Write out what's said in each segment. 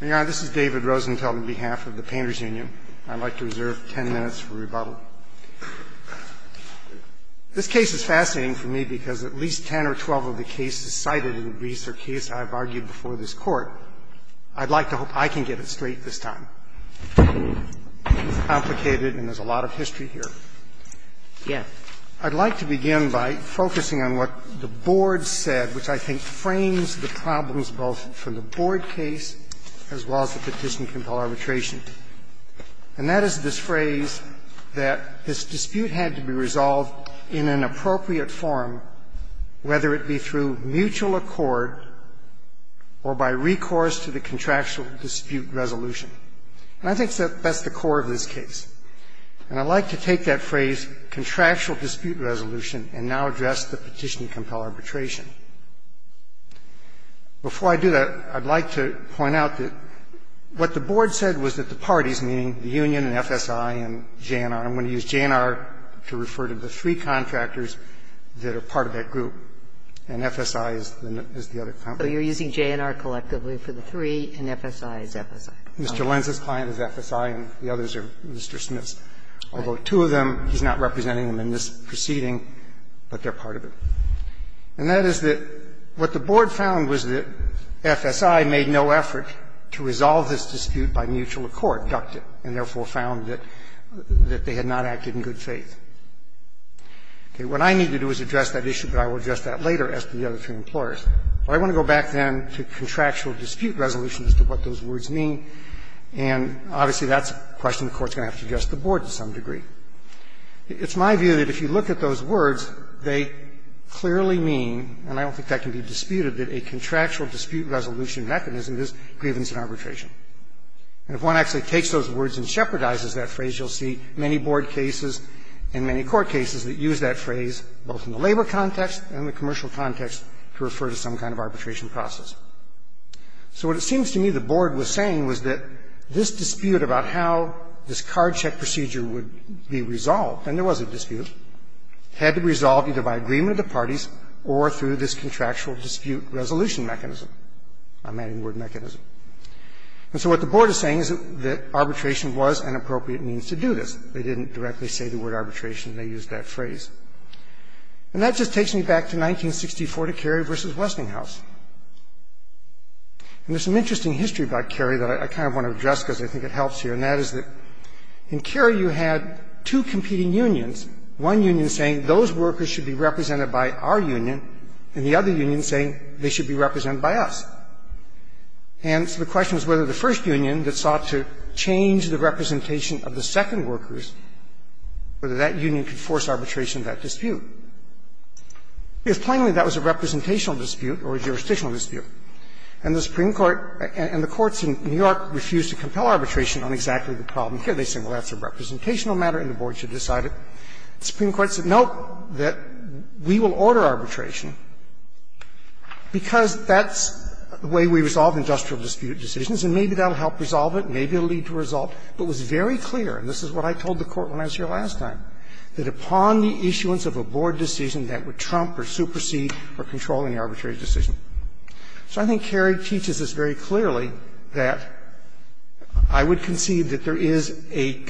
This is David Rosenthal on behalf of the Painters Union. I'd like to reserve 10 minutes for rebuttal. This case is fascinating to me because at least 10 or 12 of the cases cited in the research case I've argued before this court. I'd like to hope I can get it straight this time. It's complicated and there's a lot of history here. I'd like to begin by focusing on what the board said, which I think frames the problems both for the board case as well as the petition for arbitration. And that is this phrase that this dispute had to be resolved in an appropriate form, whether it be through mutual accord or by recourse to the contractual dispute resolution. And I think that's the core of this case. And I'd like to take that phrase, contractual dispute resolution, and now address the petition to compel arbitration. Before I do that, I'd like to point out that what the board said was that the parties, meaning the union and FSI and J&R, I'm going to use J&R to refer to the three contractors that are part of that group, and FSI is the other contractor. So you're using J&R collectively for the three and FSI is FSI. Mr. Lenz's client is FSI and the others are Mr. Smith's. Although two of them, he's not representing them in this proceeding, but they're part of it. And that is that what the board found was that FSI made no effort to resolve this dispute by mutual accord, ducted, and therefore found that they had not acted in good faith. What I need to do is address that issue, but I will address that later as to the other three employers. I want to go back then to contractual dispute resolution as to what those words mean. And obviously that's a question the Court's going to have to address the board to some degree. It's my view that if you look at those words, they clearly mean, and I don't think that can be disputed, that a contractual dispute resolution mechanism is grievance and arbitration. And if one actually takes those words and shepherdizes that phrase, you'll see many board cases and many court cases that use that phrase both in the labor context and the commercial context to refer to some kind of arbitration process. So what it seems to me the board was saying was that this dispute about how this card check procedure would be resolved, and there was a dispute, had to be resolved either by agreement of the parties or through this contractual dispute resolution mechanism, a man-in-word mechanism. And so what the board is saying is that arbitration was an appropriate means to do this. They didn't directly say the word arbitration. They used that phrase. And that just takes me back to 1964 to Kerry v. Westinghouse. And there's some interesting history about Kerry that I kind of want to address because I think it helps here, and that is that in Kerry you had two competing unions, one union saying those workers should be represented by our union, and the other union saying they should be represented by us. And so the question is whether the first union that sought to change the representation of the second workers, whether that union could force arbitration in that dispute. If finally that was a representational dispute or a jurisdictional dispute and the Supreme Court and the courts in New York refused to compel arbitration on exactly the problem, here they say, well, that's a representational matter and the board should decide it. The Supreme Court said, nope, we will order arbitration because that's the way we resolve industrial dispute decisions, and maybe that will help resolve it, maybe it will lead to a result, but it was very clear, and this is what I told the Court when I was here last time, that upon the issuance of a board decision that would trump or supersede or control any arbitrary decision. So I think Kerry teaches this very clearly, that I would concede that there is a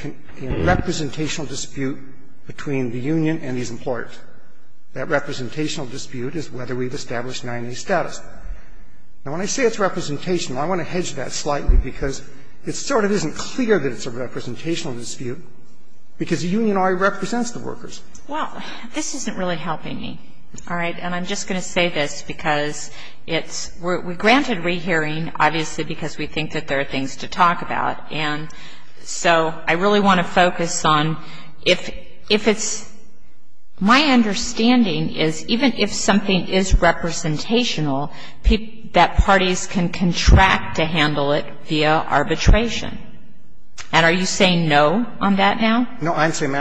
representational dispute between the union and these employers. That representational dispute is whether we've established manual status. Now, when I say it's representational, I want to hedge that slightly because it sort of isn't clear that it's a representational dispute because the union already represents the workers. Well, this isn't really helping me, all right? And I'm just going to say this because it's we're granted rehearing, obviously, because we think that there are things to talk about, and so I really want to focus on if it's my understanding is even if something is representational, that parties can contract to handle it via arbitration. And are you saying no on that now? No, I'm saying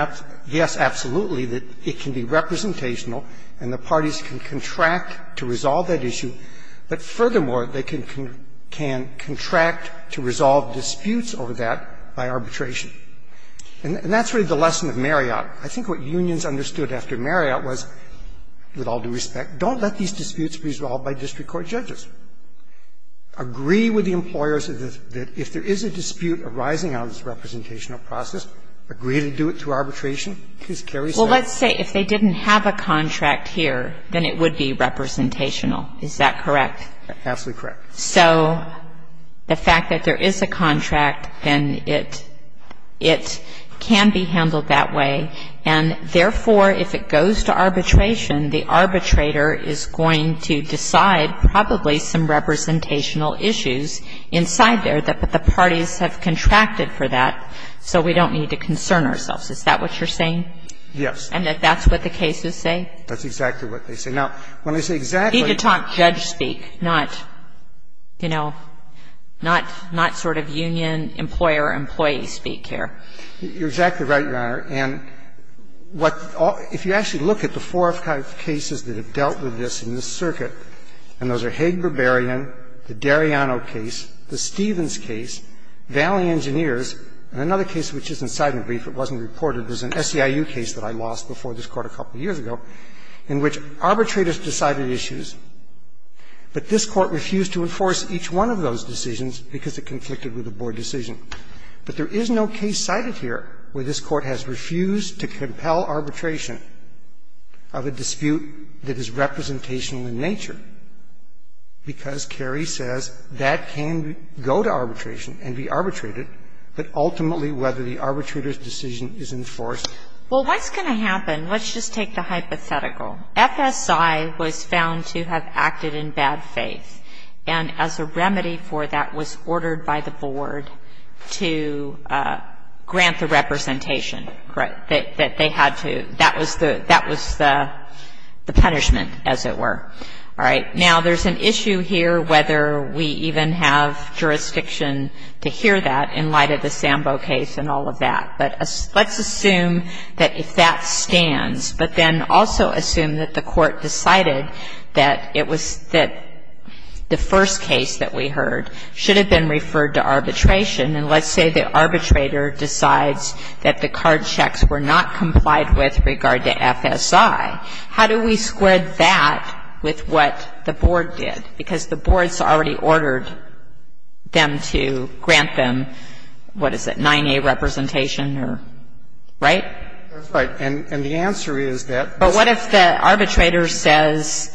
yes, absolutely, that it can be representational and the parties can contract to resolve that issue, but furthermore, they can contract to resolve disputes over that by arbitration. And that's really the lesson of Marriott. I think what unions understood after Marriott was, with all due respect, don't let these disputes be resolved by district court judges. Agree with the employers that if there is a dispute arising out of this representational process, agree to do it through arbitration. Please, Kerry's back. Well, let's say if they didn't have a contract here, then it would be representational. Is that correct? Absolutely correct. So the fact that there is a contract, then it can be handled that way, and therefore, if it goes to arbitration, the arbitrator is going to decide probably some representational issues inside there that the parties have contracted for that, so we don't need to concern ourselves. Is that what you're saying? Yes. And that that's what the cases say? That's exactly what they say. Now, when I say exactly... These are top judge speaks, not, you know, not sort of union, employer, employee speak here. You're exactly right, Your Honor. And if you actually look at the four or five cases that have dealt with this in this circuit, and those are Haig-Berberian, the Dariano case, the Stevens case, Valley Engineers, and another case which isn't cited in the brief, it wasn't reported, is an SEIU case that I lost before this Court a couple of years ago, in which arbitrators decided issues, but this Court refused to enforce each one of those decisions because it conflicted with the board decision. But there is no case cited here where this Court has refused to compel arbitration of a dispute that is representational in nature, because Kerry says that can go to arbitration and be arbitrated, but ultimately whether the arbitrator's decision is enforced... Well, what's going to happen? Let's just take the hypothetical. FSI was found to have acted in bad faith, and as a remedy for that was ordered by the board to grant the representation that they had to. All right. Now, there's an issue here whether we even have jurisdiction to hear that in light of the Sambo case and all of that, but let's assume that if that stands, but then also assume that the Court decided that the first case that we heard should have been referred to arbitration, and let's say the arbitrator decides that the card checks were not complied with regard to FSI. How do we split that with what the board did? Because the board's already ordered them to grant them, what is it, 9A representation or... Right? Right. And the answer is that... But what if the arbitrator says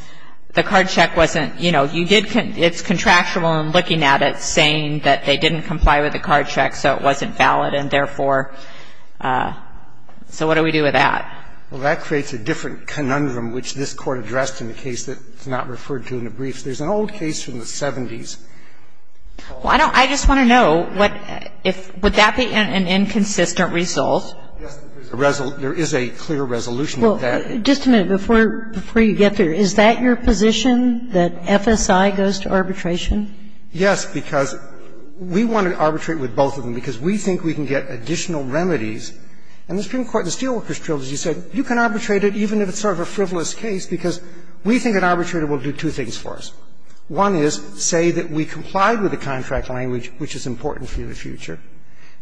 the card check wasn't, you know, you did, it's contractual and looking at it saying that they didn't comply with the card check, so it wasn't valid, and therefore, so what do we do with that? Well, that creates a different conundrum, which this Court addressed in the case that is not referred to in the brief. There's an old case from the 70s. Well, I don't, I just want to know what, if, would that be an inconsistent result? There is a clear resolution to that. Well, just a minute before you get there. Is that your position, that FSI goes to arbitration? Yes, because we want to arbitrate with both of them, because we think we can get additional remedies. And the Supreme Court in the Steelworkers Trilogy said you can arbitrate it even if it's sort of a frivolous case, because we think an arbitrator will do two things for us. One is say that we comply with the contract language, which is important for you in the future.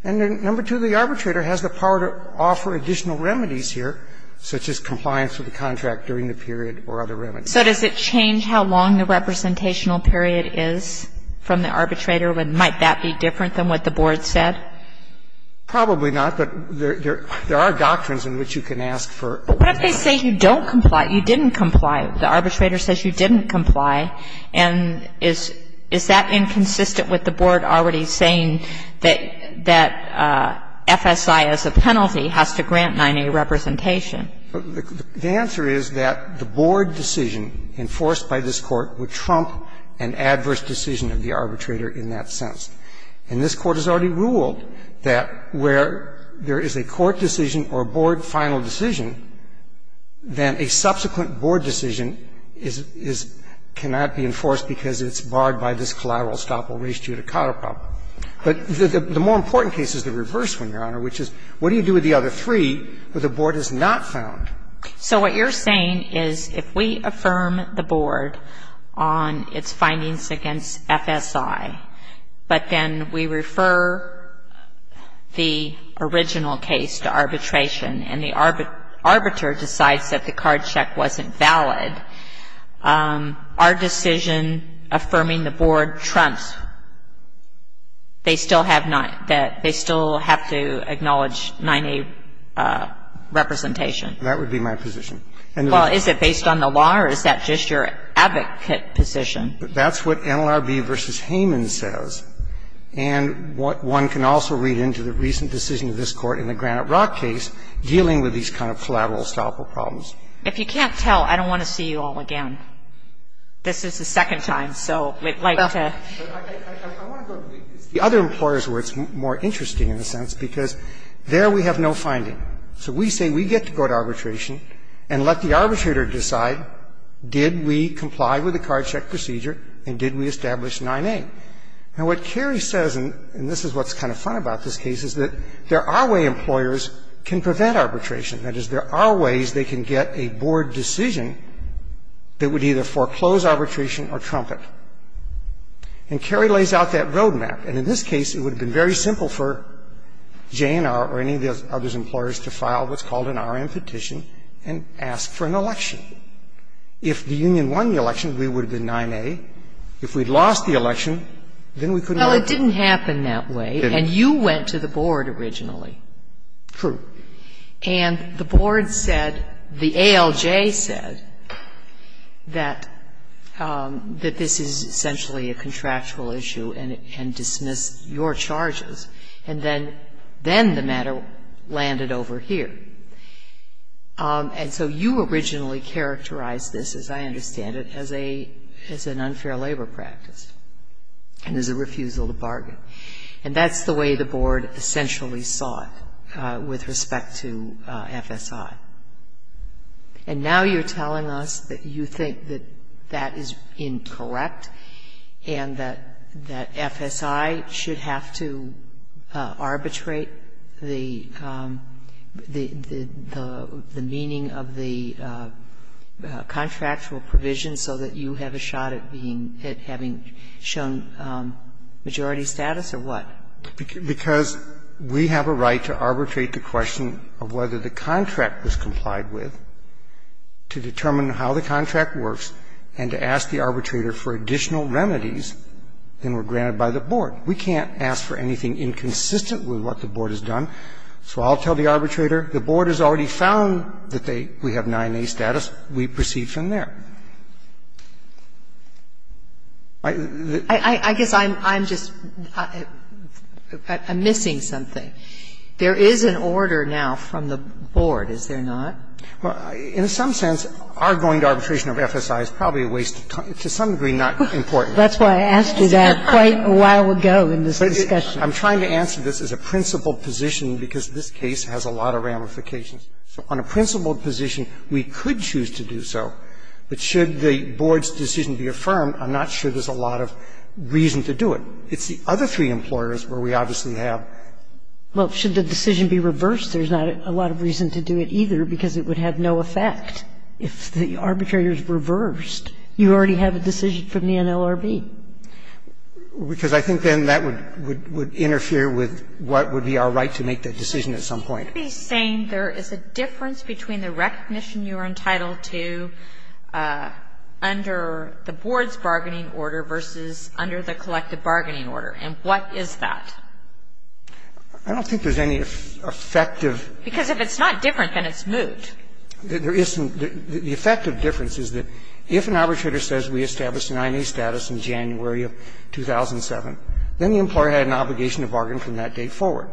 And then number two, the arbitrator has the power to offer additional remedies here, such as compliance with the contract during the period or other remedies. So does it change how long the representational period is from the arbitrator? And might that be different than what the Board said? Probably not. But there are doctrines in which you can ask for. But what if they say you don't comply, you didn't comply? The arbitrator says you didn't comply. And is that inconsistent with the Board already saying that FSI as a penalty has to grant 9A representation? The answer is that the Board decision enforced by this Court would trump an adverse decision of the arbitrator in that sense. And this Court has already ruled that where there is a Court decision or a Board final decision, then a subsequent Board decision is to not be enforced because it's barred by this collateral estoppel res judicata. But the more important case is the reverse one, Your Honor, which is what do you do with the other three that the Board has not found? So what you're saying is if we affirm the Board on its findings against FSI, but then we refer the original case to arbitration and the arbiter decides that the card check wasn't valid, our decision affirming the Board trumps. They still have to acknowledge 9A representation. That would be my position. Well, is it based on the law or is that just your advocate position? That's what NLRB v. Hayman says. And one can also read into the recent decision of this Court in the Granite Rock case dealing with these kind of collateral estoppel problems. If you can't tell, I don't want to see you all again. This is the second time, so we'd like to... I want to go to the other employers where it's more interesting in a sense because there we have no finding. So we say we get to go to arbitration and let the arbitrator decide did we comply with the card check procedure and did we establish 9A. And what Carrie says, and this is what's kind of fun about this case, is that there are ways employers can prevent arbitration. That is, there are ways they can get a Board decision that would either foreclose arbitration or trump it. And Carrie lays out that road map. And in this case, it would have been very simple for Jane or any of the other employers to file what's called an R.M. petition and ask for an election. If the union won the election, we would have been 9A. If we'd lost the election, then we couldn't... Well, it didn't happen that way. It didn't. And you went to the Board originally. True. And the Board said, the ALJ said that this is essentially a contractual issue and dismiss your charges. And then the matter landed over here. And so you originally characterized this, as I understand it, as an unfair labor practice and as a refusal to bargain. And that's the way the Board essentially saw it with respect to FSI. And now you're telling us that you think that that is incorrect and that FSI should have to arbitrate the meaning of the contractual provision so that you have a shot at being at having shown majority status or what? Because we have a right to arbitrate the question of whether the contract was complied with to determine how the contract works and to ask the arbitrator for additional remedies that were granted by the Board. We can't ask for anything inconsistent with what the Board has done. So I'll tell the arbitrator, the Board has already found that we have 9A status. We proceed from there. I guess I'm just missing something. There is an order now from the Board, is there not? In some sense, our going to arbitration of FSI is probably to some degree not important. That's why I asked you that quite a while ago in this discussion. I'm trying to answer this as a principled position because this case has a lot of ramifications. On a principled position, we could choose to do so. But should the Board's decision be affirmed, I'm not sure there's a lot of reason to do it. It's the other three employers where we obviously have... Well, should the decision be reversed, there's not a lot of reason to do it either because it would have no effect. If the arbitrator is reversed, you already have a decision from the NLRB. Because I think then that would interfere with what would be our right to make the decision at some point. I think he's saying there is a difference between the recognition you are entitled to under the Board's bargaining order versus under the collective bargaining order. And what is that? I don't think there's any effective... Because if it's not different, then it's moved. There isn't. The effective difference is that if an arbitrator says we established 9A status in January of 2007, then the employer had an obligation to bargain from that date forward.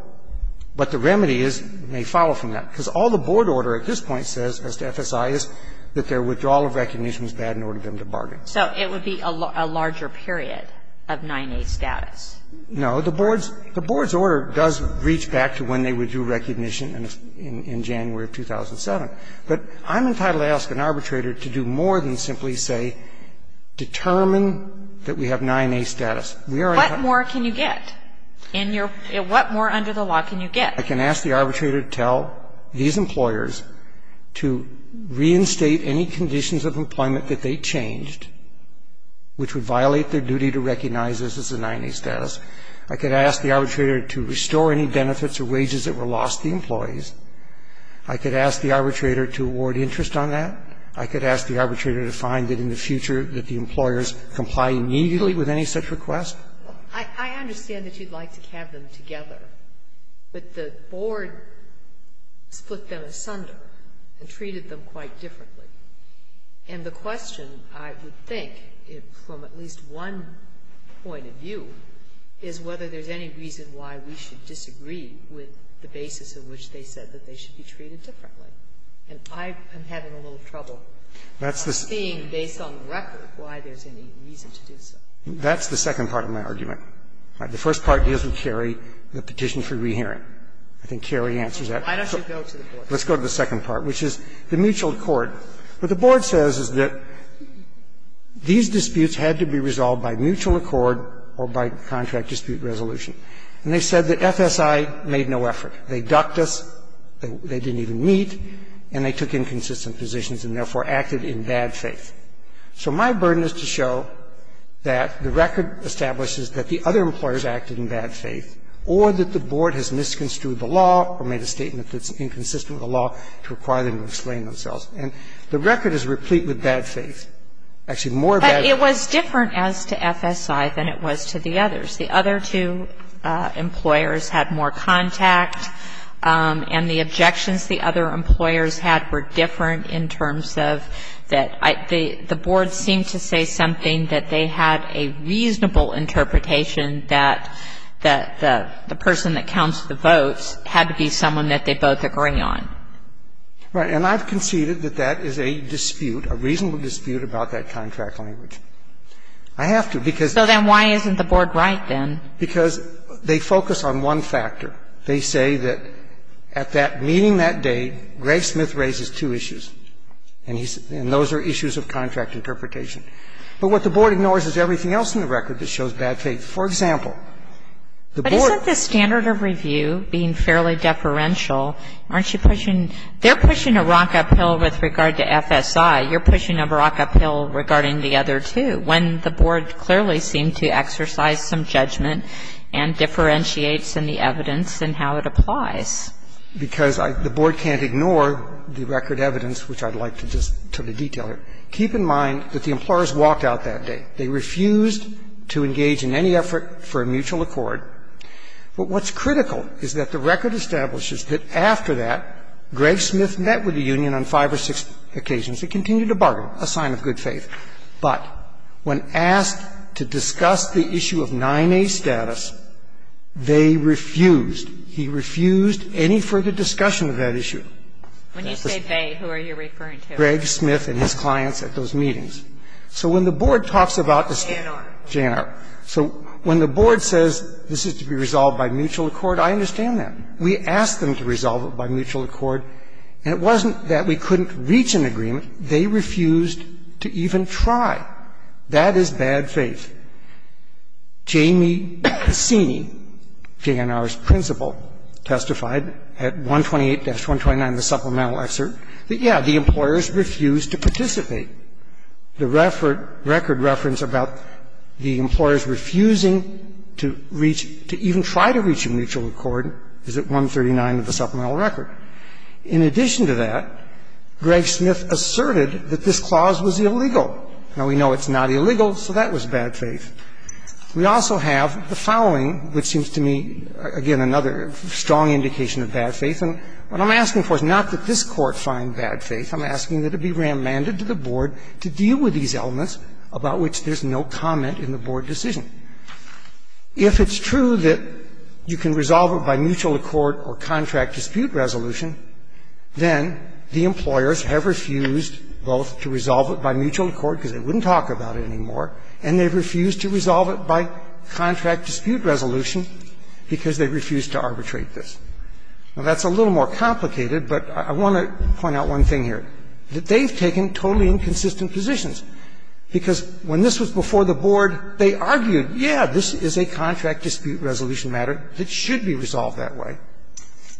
But the remedy is they follow from that. Because all the Board order at this point says as to FSI is that their withdrawal of recognition is bad in order for them to bargain. So it would be a larger period of 9A status. No. The Board's order does reach back to when they would do recognition in January of 2007. But I'm entitled to ask an arbitrator to do more than simply say determine that we have 9A status. What more can you get? What more under the law can you get? I can ask the arbitrator to tell these employers to reinstate any conditions of employment that they changed, which would violate their duty to recognize this as a 9A status. I could ask the arbitrator to restore any benefits or wages that were lost to the employees. I could ask the arbitrator to award interest on that. I could ask the arbitrator to find that in the future that the employers comply immediately with any such request. I understand that you'd like to have them together. But the Board split them asunder and treated them quite differently. And the question, I would think, from at least one point of view, is whether there's any reason why we should disagree with the basis on which they said that they should be treated differently. And I'm having a little trouble seeing, based on the record, why there's any reason to do so. That's the second part of my argument. The first part is with Sherry, the petition for rehearing. I think Sherry answers that. Let's go to the second part, which is the mutual accord. What the Board says is that these disputes had to be resolved by mutual accord or by contract dispute resolution. And they said that FSI made no effort. They ducked us. They didn't even meet. And they took inconsistent positions and therefore acted in bad faith. So my burden is to show that the record establishes that the other employers acted in bad faith or that the Board has misconstrued the law or made a statement that's inconsistent with the law to require them to explain themselves. And the record is replete with bad faith. Actually, more bad faith. It was different as to FSI than it was to the others. The other two employers had more contact. And the objections the other employers had were different in terms of that the Board seemed to say something that they had a reasonable interpretation that the person that counts the votes had to be someone that they both agree on. Right, and I've conceded that that is a dispute, a reasonable dispute about that contract language. I have to because So then why isn't the Board right then? Because they focus on one factor. They say that at that meeting that day, Greg Smith raises two issues. And those are issues of contract interpretation. But what the Board ignores is everything else in the record that shows bad faith. For example, the Board But isn't the standard of review being fairly deferential? Aren't you pushing They're pushing a rock uphill with regard to FSI. You're pushing a rock uphill regarding the other two. But why is it that when the Board clearly seemed to exercise some judgment and differentiates in the evidence and how it applies? Because the Board can't ignore the record evidence, which I'd like to just detail. Keep in mind that the employers walked out that day. They refused to engage in any effort for a mutual accord. But what's critical is that the record establishes that after that, Greg Smith met with the union on five or six occasions. He continued to bargain, a sign of good faith. But when asked to discuss the issue of 9A status, they refused. He refused any further discussion of that issue. When you say they, who are you referring to? Greg Smith and his clients at those meetings. So when the Board talks about this JNR. JNR. So when the Board says this is to be resolved by mutual accord, I understand that. We asked them to resolve it by mutual accord. And it wasn't that we couldn't reach an agreement. They refused to even try. That is bad faith. Jamie Cassini, JNR's principal, testified at 128-129, the supplemental excerpt, that, yeah, the employers refused to participate. The record reference about the employers refusing to reach, to even try to reach a mutual accord is at 139 of the supplemental record. In addition to that, Greg Smith asserted that this clause was illegal. Now, we know it's not illegal, so that was bad faith. We also have the following, which seems to me, again, another strong indication of bad faith. And what I'm asking for is not that this Court find bad faith. I'm asking that it be remanded to the Board to deal with these elements about which there's no comment in the Board decision. If it's true that you can resolve it by mutual accord or contract dispute resolution, then the employers have refused both to resolve it by mutual accord, because they wouldn't talk about it anymore, and they've refused to resolve it by contract dispute resolution because they've refused to arbitrate this. Well, that's a little more complicated, but I want to point out one thing here. And that is that they've taken totally inconsistent positions, because when this was before the Board, they argued, yeah, this is a contract dispute resolution matter that should be resolved that way.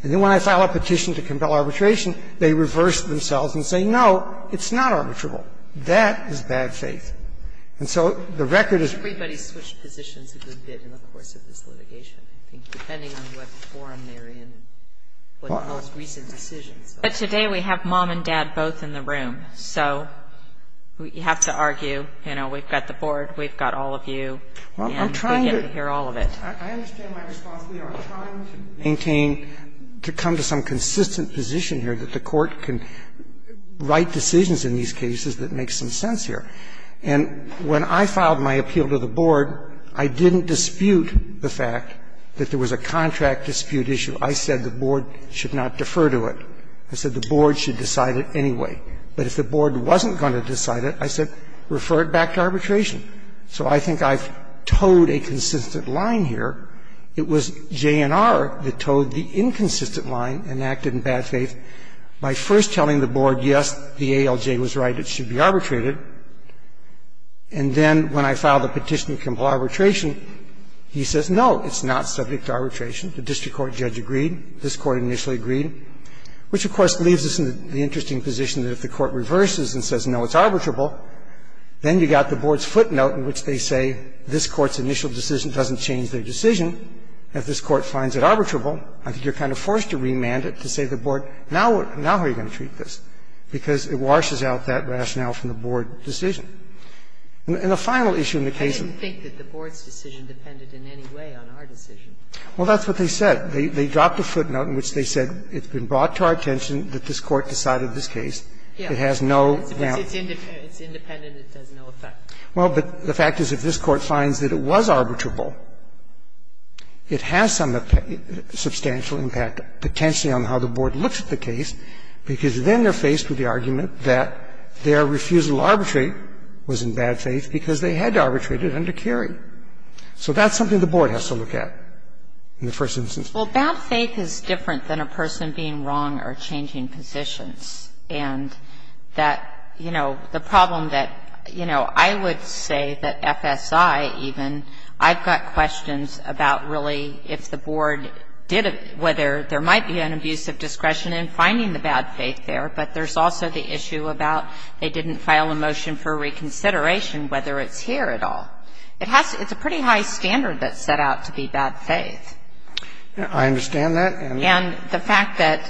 And then when I file a petition to compel arbitration, they reversed themselves and say, no, it's not arbitrable. That is bad faith. And so the record is... But today we have mom and dad both in the room. So you have to argue, you know, we've got the Board, we've got all of you, and we get to hear all of it. I understand my response. We are trying to maintain, to come to some consistent position here that the Court can write decisions in these cases that make some sense here. And when I filed my appeal to the Board, I didn't dispute the fact that there was a contract dispute issue. I said the Board should not defer to it. I said the Board should decide it anyway. But if the Board wasn't going to decide it, I said refer it back to arbitration. So I think I've towed a consistent line here. It was JNR that towed the inconsistent line and acted in bad faith by first telling the Board, yes, the ALJ was right, it should be arbitrated. And then when I filed a petition to comply with arbitration, he says, no, it's not subject to arbitration. The District Court judge agreed. This Court initially agreed. Which, of course, leaves us in the interesting position that if the Court reverses and says, no, it's arbitrable, then you've got the Board's footnote in which they say this Court's initial decision doesn't change their decision. If this Court finds it arbitrable, you're kind of forced to remand it to say to the Board, now how are you going to treat this? Because it washes out that rationale from the Board decision. And the final issue in the case is the Board's decision depended in any way on our decision. Well, that's what they said. They dropped the footnote in which they said it's been brought to our attention that this Court decided this case. It has no doubt. It's independent. It says no effect. Well, but the fact is if this Court finds that it was arbitrable, it has some substantial impact, potentially on how the Board looks at the case, because then they're faced with the argument that their refusal to arbitrate was in bad faith because they had to arbitrate it under Kerry. So that's something the Board has to look at in the first instance. Well, bad faith is different than a person being wrong or changing positions. And that, you know, the problem that, you know, I would say that FSI even, I've got questions about really if the Board did it, whether there might be an abuse of discretion in finding the bad faith there. But there's also the issue about they didn't file a motion for reconsideration, whether it's here at all. It's a pretty high standard that's set out to be bad faith. I understand that. And the fact that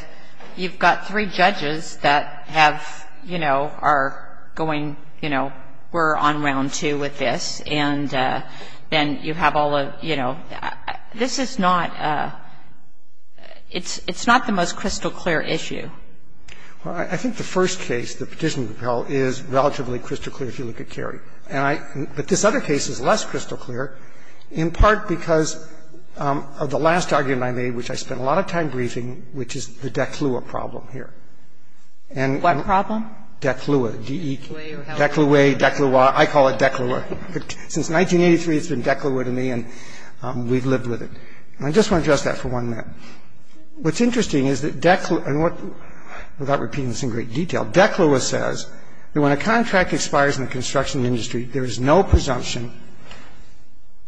you've got three judges that have, you know, are going, you know, we're on round two with this. And you have all of, you know, this is not, it's not the most crystal clear issue. Well, I think the first case, the petition of apparel, is relatively crystal clear if you look at Kerry. But this other case is less crystal clear, in part because of the last argument I made, which I spent a lot of time briefing, which is the declua problem here. What problem? Declua, D-E-C-L-U-A, declua. I call it declua. Since 1983, it's been declua to me, and we've lived with it. And I just want to address that for one minute. What's interesting is that declua, and without repeating this in great detail, declua says that when a contract expires in the construction industry, there is no presumption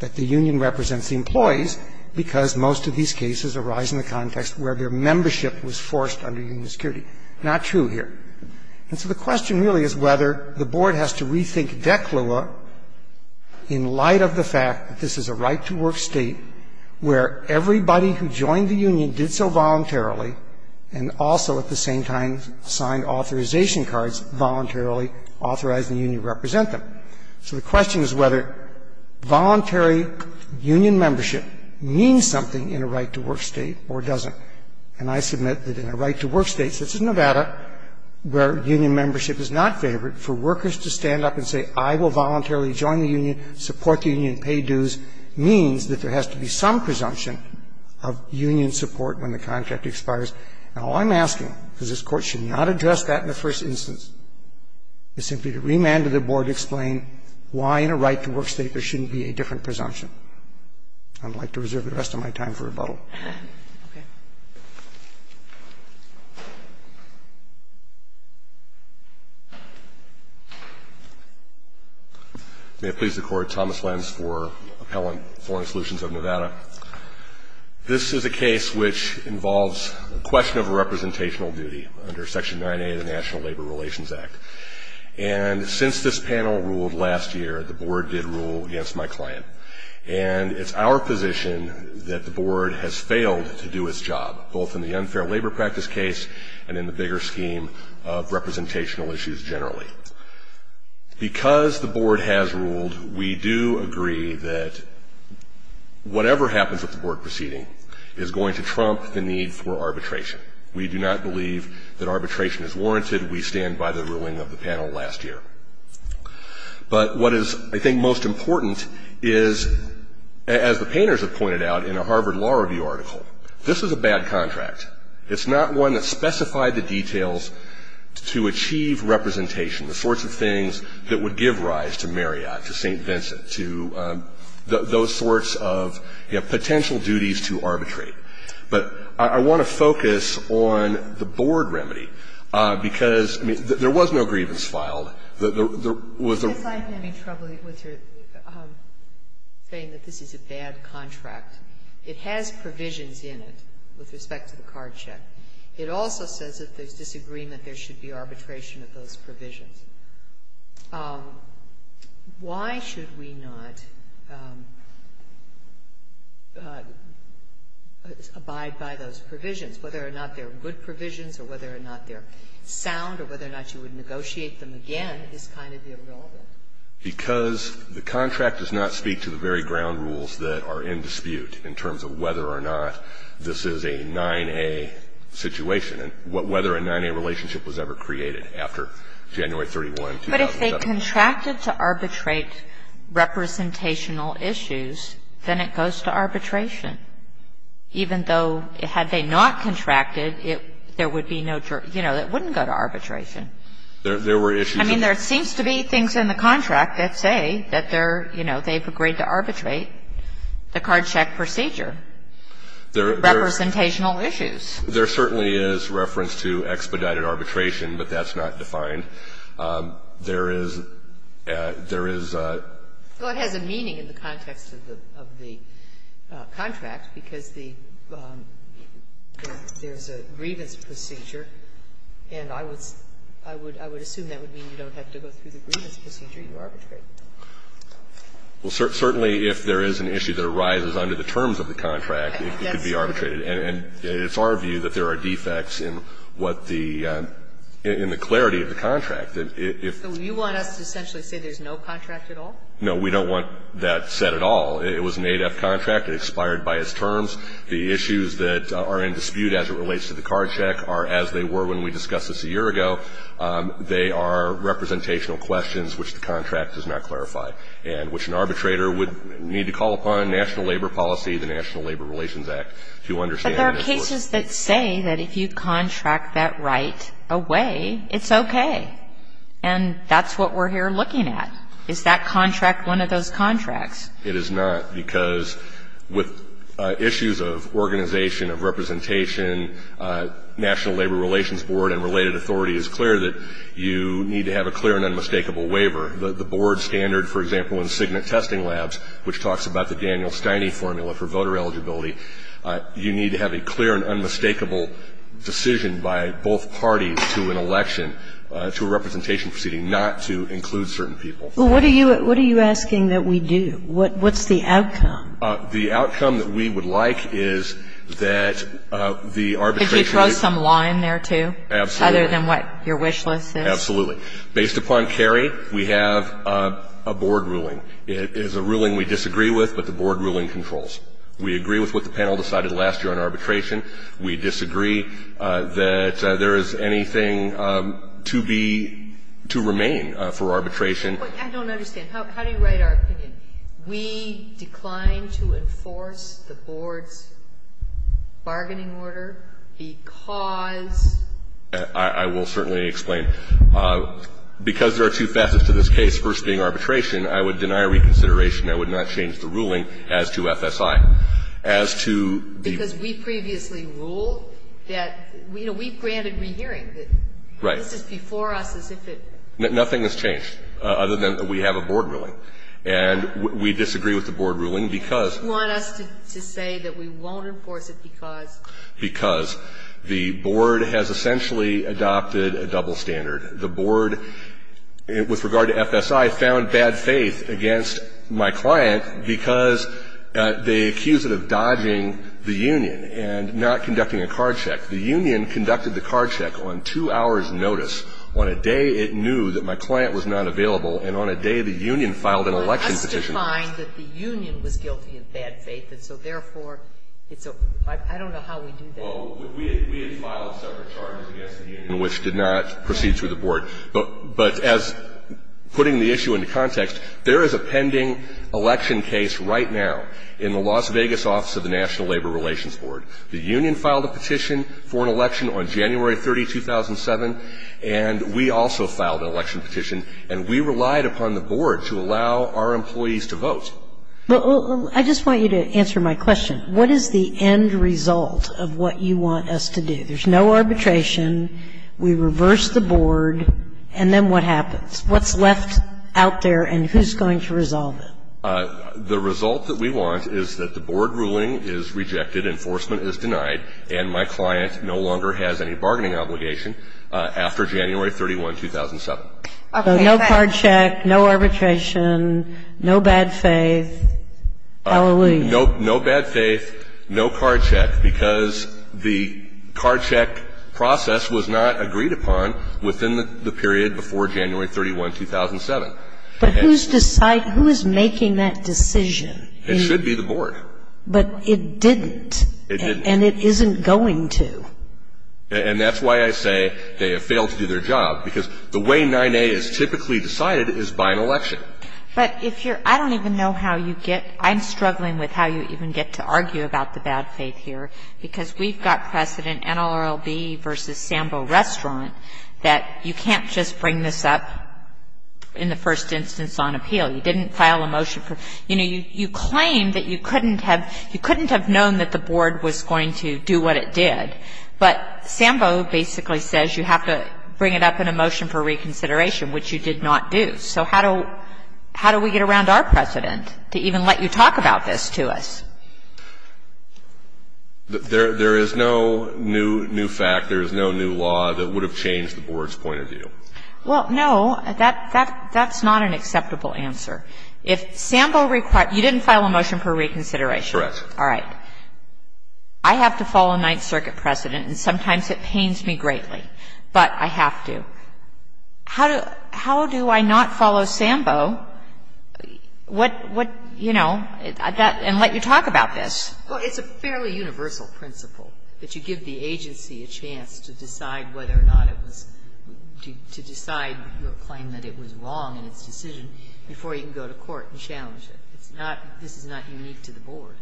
that the union represents the employees because most of these cases arise in the context where their membership was forced under union security. Not true here. And so the question really is whether the board has to rethink declua in light of the fact that this is a right-to-work state where everybody who joined the union did so voluntarily and also at the same time signed authorization cards voluntarily authorizing the union to represent them. So the question is whether voluntary union membership means something in a right-to-work state or doesn't. And I submit that in a right-to-work state, such as Nevada, where union membership is not favored, for workers to stand up and say, I will voluntarily join the union, support the union, pay dues, means that there has to be some presumption of union support when the contract expires. And all I'm asking, because this Court should not address that in the first instance, is simply to remand to the board to explain why in a right-to-work state there shouldn't be a different presumption. I'd like to reserve the rest of my time for rebuttal. May I please record Thomas Lenz for Appellant, Foreign Solutions of Nevada. This is a case which involves the question of representational duty under Section 9A of the National Labor Relations Act. And since this panel ruled last year, the board did rule against my client. And it's our position that the board has failed to do its job, both in the unfair labor practice case and in the bigger scheme of representational issues generally. Because the board has ruled, we do agree that whatever happens at the board proceeding is going to trump the need for arbitration. We do not believe that arbitration is warranted. We stand by the ruling of the panel last year. But what is, I think, most important is, as the painters have pointed out in a Harvard Law Review article, this is a bad contract. It's not one that specified the details to achieve representation, the sorts of things that would give rise to Marriott, to St. Vincent, to those sorts of potential duties to arbitrate. But I want to focus on the board remedy. Because there was no grievance filed. If I'm having trouble saying that this is a bad contract, it has provisions in it with respect to the card check. It also says that there's disagreement there should be arbitration of those provisions. Why should we not abide by those provisions? Whether or not they're good provisions or whether or not they're sound or whether or not you would negotiate them again is kind of the overall rule. Because the contract does not speak to the very ground rules that are in dispute in terms of whether or not this is a 9A situation and whether a 9A relationship was ever created after January 31, 2007. But if they contracted to arbitrate representational issues, then it goes to arbitration. Even though had they not contracted, it wouldn't go to arbitration. I mean, there seems to be things in the contract that say that they've agreed to arbitrate the card check procedure, representational issues. There certainly is reference to expedited arbitration, but that's not defined. There is a... Well, it has a meaning in the context of the contracts because there's a grievance procedure. And I would assume that would mean you don't have to go through the grievance procedure to arbitrate. Well, certainly if there is an issue that arises under the terms of the contract, it could be arbitrated. And it's our view that there are defects in the clarity of the contract. So you want us to essentially say there's no contract at all? No, we don't want that said at all. It was an ADAPT contract. It expired by its terms. The issues that are in dispute as it relates to the card check are as they were when we discussed this a year ago. They are representational questions which the contract does not clarify and which an arbitrator would need to call upon national labor policy, the National Labor Relations Act, to understand. But there are cases that say that if you contract that right away, it's okay. And that's what we're here looking at. Is that contract one of those contracts? It is not because with issues of organization, of representation, National Labor Relations Board and related authority is clear that you need to have a clear and unmistakable waiver. The board standard, for example, in Cigna Testing Labs, which talks about the Daniel Steining formula for voter eligibility, you need to have a clear and unmistakable decision by both parties to an election, to a representation proceeding, not to include certain people. Well, what are you asking that we do? What's the outcome? The outcome that we would like is that the arbitration group- Because you throw some law in there, too? Absolutely. Other than what your wish list is? Absolutely. Based upon Cary, we have a board ruling. It is a ruling we disagree with, but the board ruling controls. We agree with what the panel decided last year on arbitration. We disagree that there is anything to remain for arbitration. I don't understand. How do you write our opinion? We decline to enforce the board's bargaining order because- I will certainly explain. Because there are two facets to this case, first being arbitration, I would deny reconsideration. I would not change the ruling as to FSI. As to the- Because we previously ruled that we granted the hearing. Right. This is before us. Nothing has changed, other than we have a board ruling. And we disagree with the board ruling because- You want us to say that we won't enforce it because- We previously adopted a double standard. The board, with regard to FSI, found bad faith against my client because they accused it of dodging the union and not conducting a card check. The union conducted the card check on two hours' notice. On a day it knew that my client was not available, and on a day the union filed an election petition. I just find that the union was guilty of bad faith, and so, therefore, it's over. I don't know how we do that. Well, we had filed separate charges against the union, which did not proceed through the board. But as putting the issue into context, there is a pending election case right now in the Las Vegas office of the National Labor Relations Board. The union filed a petition for an election on January 30, 2007, and we also filed an election petition. And we relied upon the board to allow our employees to vote. I just want you to answer my question. What is the end result of what you want us to do? There's no arbitration. We reverse the board. And then what happens? What's left out there, and who's going to resolve it? The result that we want is that the board ruling is rejected, enforcement is denied, and my client no longer has any bargaining obligation after January 31, 2007. So no card check, no arbitration, no bad faith, hallelujah. No bad faith, no card check, because the card check process was not agreed upon within the period before January 31, 2007. But who's making that decision? It should be the board. But it didn't. It didn't. And it isn't going to. And that's why I say they have failed to do their job, because the way 9A is typically decided is by an election. But if you're – I don't even know how you get – I'm struggling with how you even get to argue about the bad faith here, because we've got precedent, NLRB versus Sambo Restaurant, that you can't just bring this up in the first instance on appeal. You know, you claim that you couldn't have – you couldn't have known that the board was going to do what it did. But Sambo basically says you have to bring it up in a motion for reconsideration, which you did not do. So how do we get around our precedent to even let you talk about this to us? There is no new fact, there is no new law that would have changed the board's point of view. Well, no, that's not an acceptable answer. If Sambo – you didn't file a motion for reconsideration. Correct. All right. I have to follow a Ninth Circuit precedent, and sometimes it pains me greatly. But I have to. How do I not follow Sambo and let you talk about this? Well, it's a fairly universal principle, that you give the agency a chance to decide whether or not it was – to decide to claim that it was wrong in its decision before you can go to court and challenge it. It's not – this is not unique to the board.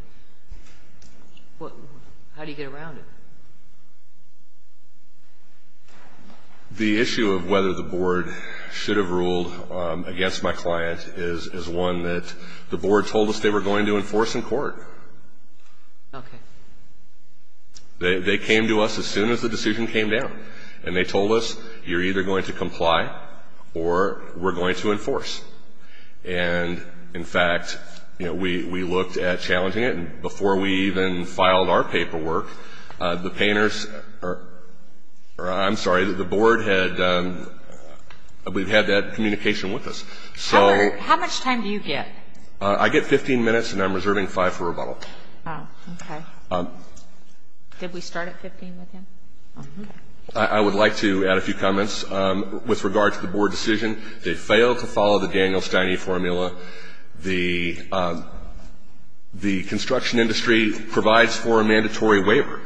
How do you get around it? The issue of whether the board should have ruled against my clients is one that the board told us they were going to enforce in court. Okay. They came to us as soon as the decision came down. And they told us, you're either going to comply or we're going to enforce. And, in fact, we looked at challenging it, and before we even filed our paperwork, the painters – or I'm sorry, the board had – we've had that communication with us. How much time do you get? I get 15 minutes, and I'm reserving five for rebuttal. Oh, okay. Did we start at 15 minutes? I would like to add a few comments with regard to the board decision. They failed to follow the Daniel Stiney formula. The construction industry provides for a mandatory waiver.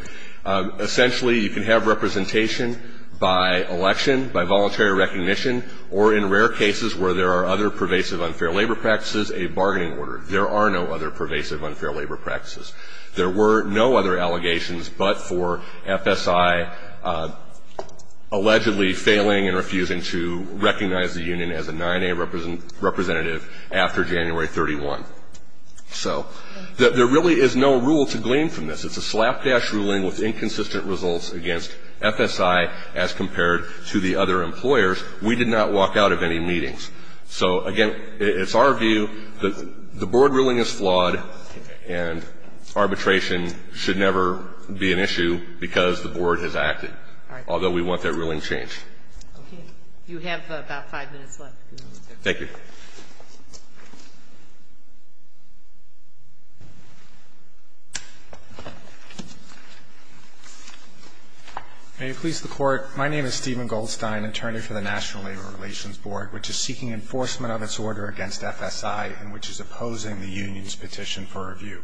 Essentially, you can have representation by election, by voluntary recognition, or in rare cases where there are other pervasive unfair labor practices, a bargaining order. There are no other pervasive unfair labor practices. There were no other allegations but for FSI allegedly failing and refusing to recognize the union as a 9A representative after January 31. So there really is no rule to glean from this. It's a slapdash ruling with inconsistent results against FSI as compared to the other employers. We did not walk out of any meetings. So, again, it's our view that the board ruling is flawed, and arbitration should never be an issue because the board has acted, although we want that ruling changed. Okay. You have about five minutes left. Thank you. May it please the Court. My name is Stephen Goldstein, attorney for the National Labor Relations Board, which is seeking enforcement of its order against FSI and which is opposing the union's petition for review.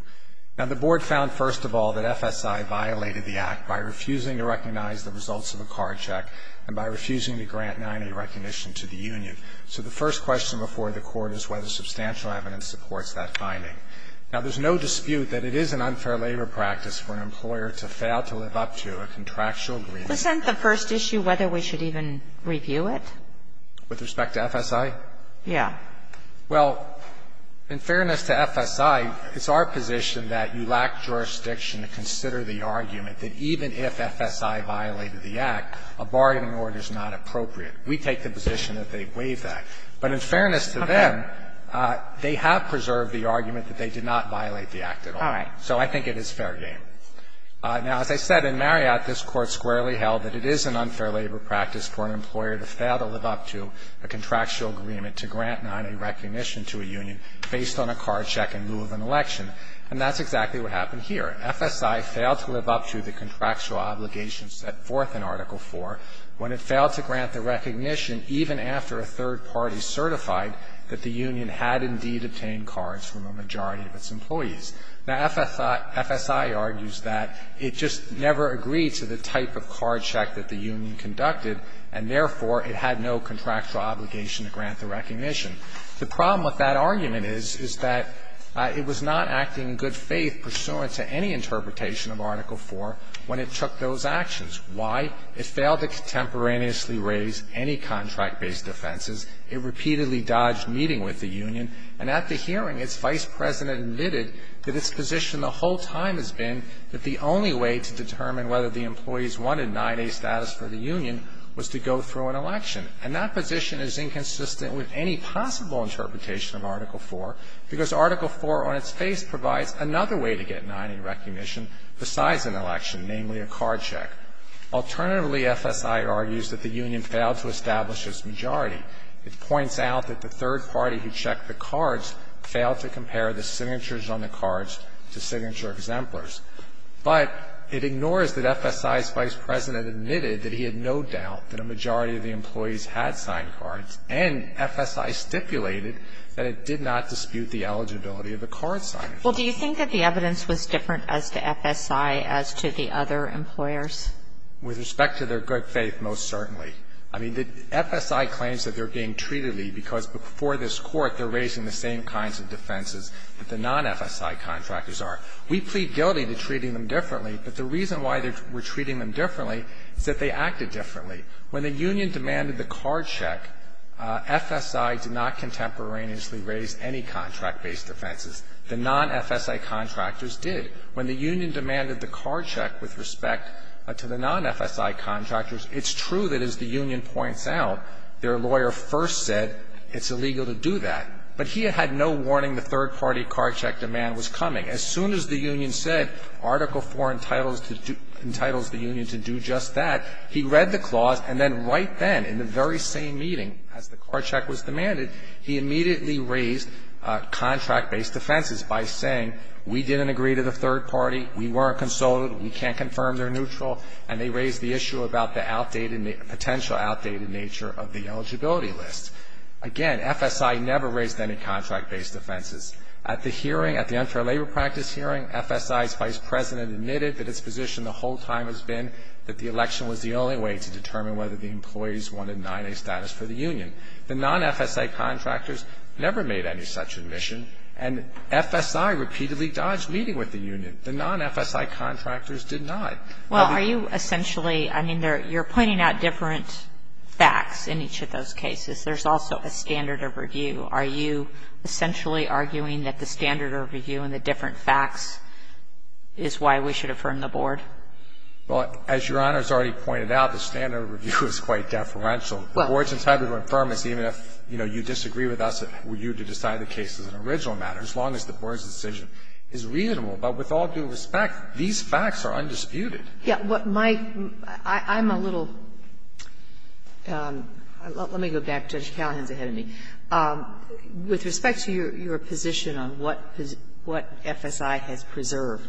Now, the board found, first of all, that FSI violated the act by refusing to recognize the results of a card check and by refusing to grant 9A recognition to the union. So the first question before the Court is whether substantial evidence supports that finding. Now, there's no dispute that it is an unfair labor practice for an employer to fail to live up to a contractual agreement. Is that the first issue, whether we should even review it? With respect to FSI? Yeah. Well, in fairness to FSI, it's our position that you lack jurisdiction to consider the argument that even if FSI violated the act, a bargaining order is not appropriate. We take the position that they waive that. But in fairness to them, they have preserved the argument that they did not violate the act at all. All right. So I think it is fair game. Now, as I said, in Marriott, this Court squarely held that it is an unfair labor practice for an employer to fail to live up to a contractual agreement to grant 9A recognition to a union based on a card check and rule of an election. And that's exactly what happened here. FSI failed to live up to the contractual obligations set forth in Article IV when it failed to grant the recognition even after a third party certified that the union had indeed obtained cards from a majority of its employees. Now, FSI argues that it just never agreed to the type of card check that the union conducted and, therefore, it had no contractual obligation to grant the recognition. The problem with that argument is, is that it was not acting in good faith pursuant to any interpretation of Article IV when it took those actions. Why? It failed to contemporaneously raise any contract-based offenses. It repeatedly dodged meeting with the union. And at the hearing, its vice president admitted that its position the whole time has been that the only way to determine whether the employees wanted 9A status for the union was to go through an election. And that position is inconsistent with any possible interpretation of Article IV because Article IV on its face provides another way to get 9A recognition besides an election, namely a card check. Alternatively, FSI argues that the union failed to establish its majority. It points out that the third party who checked the cards failed to compare the signatures on the cards to signature exemplars. But it ignores that FSI's vice president admitted that he had no doubt that a majority of the employees had signed cards and FSI stipulated that it did not dispute the eligibility of the card signing. Well, do you think that the evidence was different as to FSI as to the other employers? With respect to their good faith, most certainly. I mean, FSI claims that they're being treated because before this court they're raising the same kinds of defenses that the non-FSI contractors are. We plead guilty to treating them differently, but the reason why we're treating them differently is that they acted differently. When the union demanded the card check, FSI did not contemporaneously raise any contract-based defenses. The non-FSI contractors did. When the union demanded the card check with respect to the non-FSI contractors, it's true that, as the union points out, their lawyer first said it's illegal to do that, but he had no warning the third party card check demand was coming. As soon as the union said Article IV entitles the union to do just that, he read the clause, and then right then, in the very same meeting, as the card check was demanded, he immediately raised contract-based defenses by saying we didn't agree to the third party, we weren't consulted, we can't confirm they're neutral, and they raised the issue about the potential outdated nature of the eligibility list. Again, FSI never raised any contract-based defenses. At the hearing, at the unfair labor practice hearing, FSI's vice president admitted that his position the whole time has been that the election was the only way to determine whether the employees wanted to deny their status to the union. The non-FSI contractors never made any such admission, and FSI repeatedly dodged meeting with the union. The non-FSI contractors did not. Well, are you essentially, I mean, you're pointing out different facts in each of those cases. There's also a standard of review. Are you essentially arguing that the standard of review and the different facts is why we should affirm the board? Well, as Your Honor has already pointed out, the standard of review is quite deferential. The board's entitled to affirm it, even if, you know, you disagree with us, we're you to decide the case as an original matter, as long as the board's decision is reasonable. But with all due respect, these facts are undisputed. Yeah. Mike, I'm a little, let me go back, Judge Callahan's ahead of me. With respect to your position on what FSI has preserved,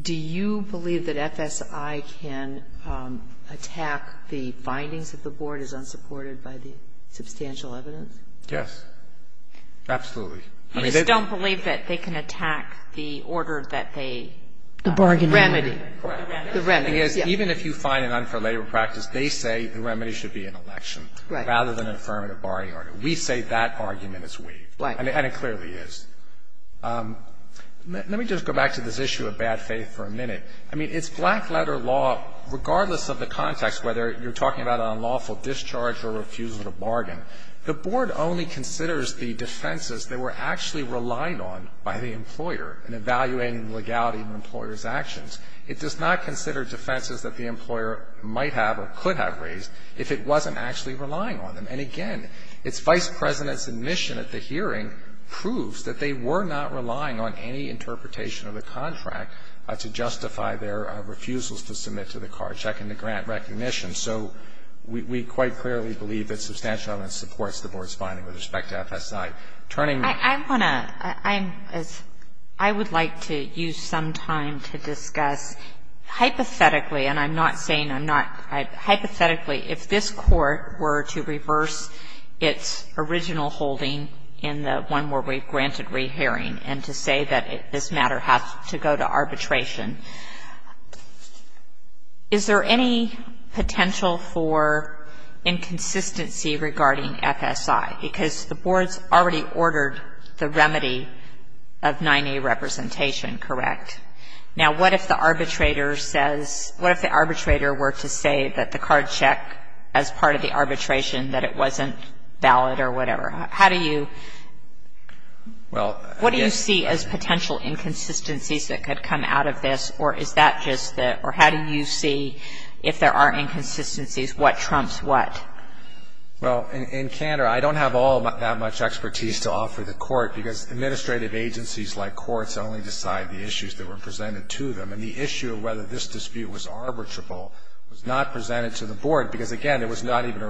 do you believe that FSI can attack the findings that the board is unsupported by the substantial evidence? Yes. Absolutely. You don't believe that they can attack the order that they. The bargaining order. Remedy. The remedy. Even if you find an unfair labor practice, they say the remedy should be an election rather than an affirmative bargaining order. We say that argument is weak. Right. And it clearly is. Let me just go back to this issue of bad faith for a minute. I mean, it's black letter law, regardless of the context, whether you're talking about an unlawful discharge or refusal to bargain, the board only considers the defenses they were actually relying on by the employer in evaluating legality in the employer's actions. It does not consider defenses that the employer might have or could have raised if it wasn't actually relying on them. And, again, its vice president's admission at the hearing proves that they were not relying on any interpretation of the contract to justify their refusals to submit to the card checking the grant recognition. So we quite clearly believe that substantial evidence supports the board's finding with respect to FSI. I want to ‑‑ I would like to use some time to discuss hypothetically, and I'm not saying I'm not ‑‑ hypothetically, if this court were to reverse its original holding in the one where we granted rehearing and to say that this matter has to go to arbitration, is there any potential for inconsistency regarding FSI? Because the board's already ordered the remedy of 9A representation, correct? Now, what if the arbitrator says ‑‑ what if the arbitrator were to say that the card check, as part of the arbitration, that it wasn't valid or whatever? How do you ‑‑ what do you see as potential inconsistencies that could come out of this, or is that just the ‑‑ or how do you see, if there are inconsistencies, what trumps what? Well, in canter, I don't have all that much expertise to offer the court, because administrative agencies like courts only decide the issues that were presented to them, and the issue of whether this dispute was arbitrable was not presented to the board, because, again, it was not even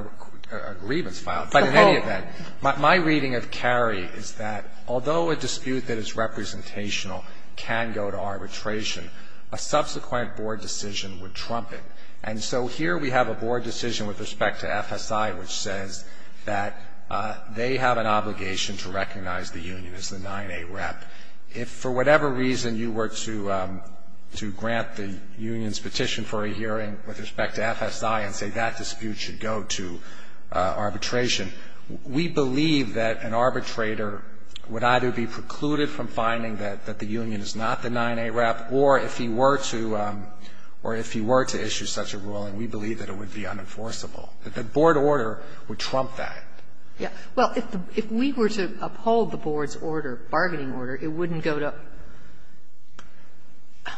a grievance file. But in any event, my reading of Cary is that although a dispute that is representational can go to arbitration, a subsequent board decision would trump it. And so here we have a board decision with respect to FSI which says that they have an obligation to recognize the union as the 9A rep. If for whatever reason you were to grant the union's petition for a hearing with respect to FSI and say that dispute should go to arbitration, we believe that an arbitrator would either be precluded from finding that the union is not the 9A rep, or if he were to issue such a ruling, we believe that it would be unenforceable. The board order would trump that. Yes. Well, if we were to uphold the board's order, bargaining order, it wouldn't go to ‑‑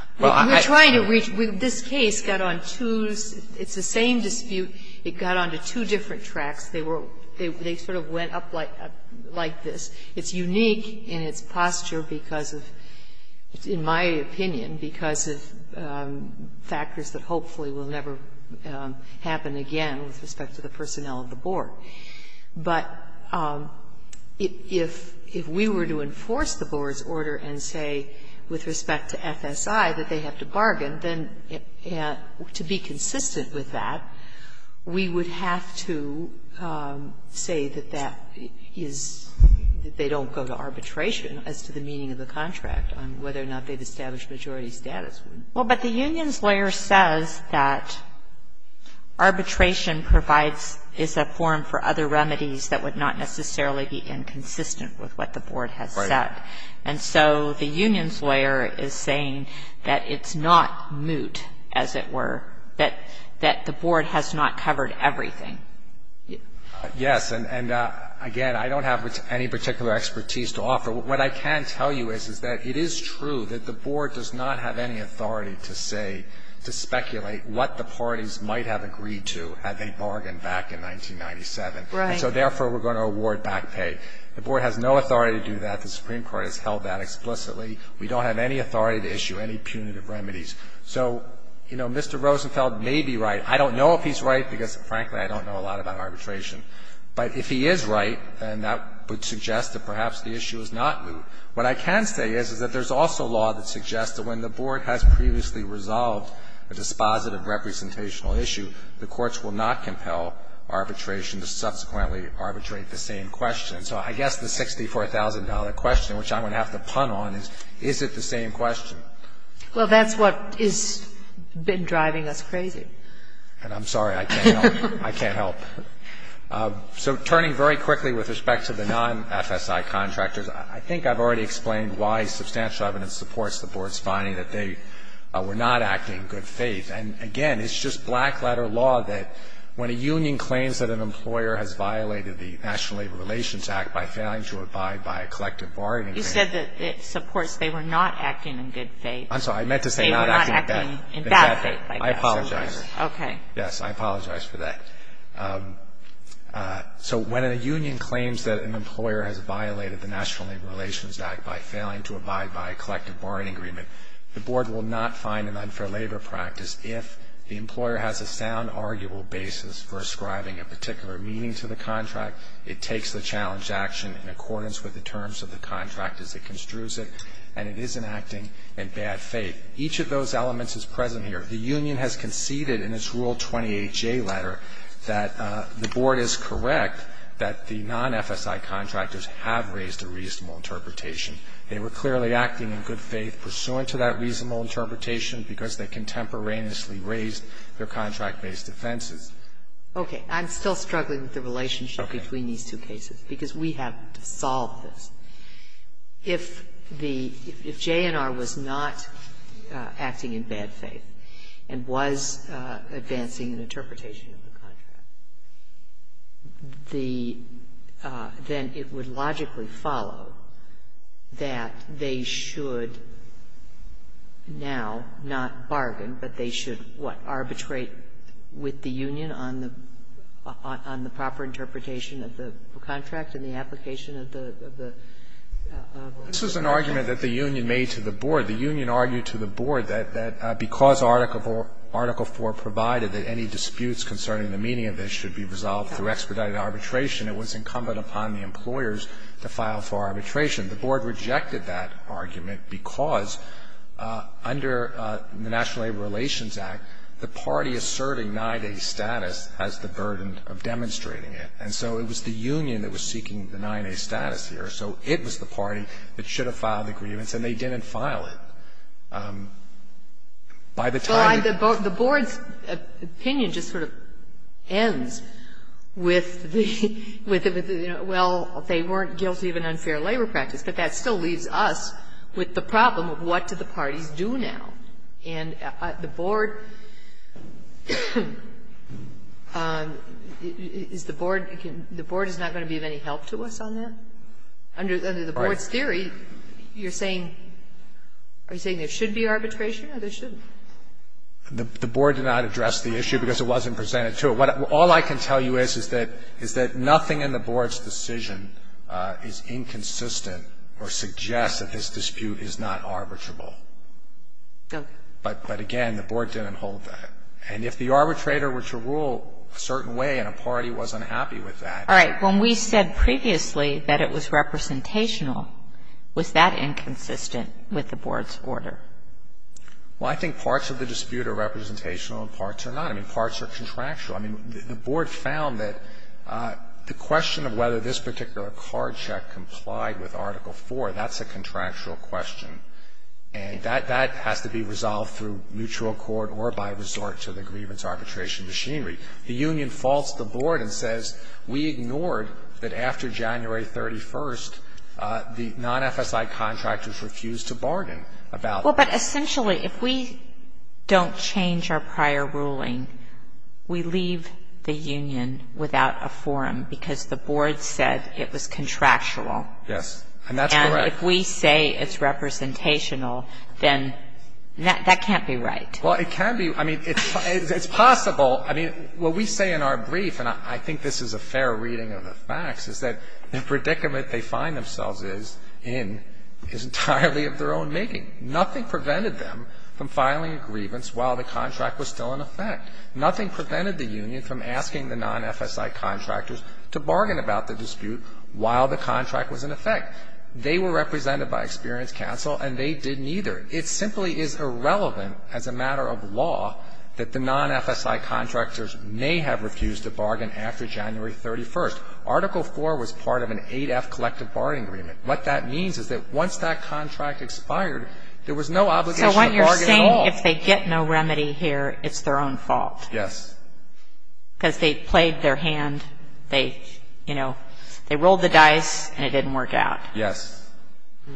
We're trying to reach ‑‑ this case got on two ‑‑ it's the same dispute. It got onto two different tracks. They sort of went up like this. It's unique in its posture because of, in my opinion, because of factors that hopefully will never happen again with respect to the personnel of the board. But if we were to enforce the board's order and say with respect to FSI that they have to bargain, then to be consistent with that, we would have to say that that is, that they don't go to arbitration as to the meaning of the contract on whether or not they've established majority status. Well, but the union's lawyer says that arbitration provides, is a form for other remedies that would not necessarily be inconsistent with what the board has said. Right. And so the union's lawyer is saying that it's not moot, as it were, that the board has not covered everything. Yes, and again, I don't have any particular expertise to offer. But what I can tell you is that it is true that the board does not have any authority to say, to speculate what the parties might have agreed to had they bargained back in 1997. Right. And so therefore we're going to award back pay. The board has no authority to do that. The Supreme Court has held that explicitly. We don't have any authority to issue any punitive remedies. So, you know, Mr. Rosenfeld may be right. I don't know if he's right because, frankly, I don't know a lot about arbitration. But if he is right, then that would suggest that perhaps the issue is not moot. What I can say is that there's also law that suggests that when the board has previously resolved a dispositive representational issue, the courts will not compel arbitration to subsequently arbitrate the same question. So I guess the $64,000 question, which I'm going to have to pun on, is, is it the same question? Well, that's what has been driving us crazy. And I'm sorry. I can't help. So turning very quickly with respect to the non-FSI contractors, I think I've already explained why substantial evidence supports the board's finding that they were not acting in good faith. And, again, it's just black-letter law that when a union claims that an employer has violated the National Labor Relations Act by failing to abide by a collective bargaining agreement. You said that it supports they were not acting in good faith. I'm sorry. I meant to say not acting in bad faith. In bad faith. I apologize. Okay. Yes, I apologize for that. So when a union claims that an employer has violated the National Labor Relations Act by failing to abide by a collective bargaining agreement, the board will not find an unfair labor practice if the employer has a sound, arguable basis for ascribing a particular meaning to the contract, it takes the challenge to action in accordance with the terms of the contract as it construes it, and it isn't acting in bad faith. Each of those elements is present here. The union has conceded in its Rule 28J letter that the board is correct that the non-FSI contractors have raised a reasonable interpretation. They were clearly acting in good faith pursuant to that reasonable interpretation because they contemporaneously raised their contract-based offenses. Okay. I'm still struggling with the relationship between these two cases because we have to solve this. If the JNR was not acting in bad faith and was advancing an interpretation of the contract, then it would logically follow that they should now not bargain, but they should, what, arbitrate with the union on the proper interpretation of the contract in the application of the contract? This was an argument that the union made to the board. The union argued to the board that because Article 4 provided that any disputes concerning the meaning of this should be resolved through expedited arbitration, it was incumbent upon the employers to file for arbitration. The board rejected that argument because under the National Labor Relations Act, the party is serving 9A status as the burden of demonstrating it, and so it was the union that was seeking the 9A status here, so it was the party that should have filed the grievance, and they didn't file it. By the time you... The board's opinion just sort of ends with, well, they weren't guilty of an unfair labor practice, but that still leaves us with the problem of what does the party do now? And the board is not going to be of any help to us on this? Under the board's theory, you're saying there should be arbitration or there shouldn't? The board did not address the issue because it wasn't presented to it. All I can tell you is that nothing in the board's decision is inconsistent or suggests that this dispute is not arbitrable. But, again, the board didn't hold that. And if the arbitrator were to rule a certain way and a party was unhappy with that... All right. When we said previously that it was representational, was that inconsistent with the board's order? Well, I think parts of the dispute are representational and parts are not. I mean, parts are contractual. I mean, the board found that the question of whether this particular card check complied with Article 4, that's a contractual question, and that has to be resolved through mutual accord or by resort to the grievance arbitration machinery. The union falls to the board and says, we ignored that after January 31st, the non-FSI contractors refused to bargain about that. Well, but essentially, if we don't change our prior ruling, we leave the union without a forum because the board said it was contractual. Yes, and that's correct. And if we say it's representational, then that can't be right. Well, it can be. I mean, it's possible. I mean, what we say in our brief, and I think this is a fair reading of the facts, is that the predicament they find themselves in is entirely of their own making. Nothing prevented them from filing a grievance while the contract was still in effect. Nothing prevented the union from asking the non-FSI contractors to bargain about the dispute while the contract was in effect. They were represented by experience counsel, and they didn't either. It simply is irrelevant as a matter of law that the non-FSI contractors may have refused to bargain after January 31st. Article 4 was part of an 8-F collective bargaining agreement. What that means is that once that contract expired, there was no obligation to bargain at all. So what you're saying, if they get no remedy here, it's their own fault. Yes. Because they plagued their hand. They, you know, they rolled the dice, and it didn't work out. Yes.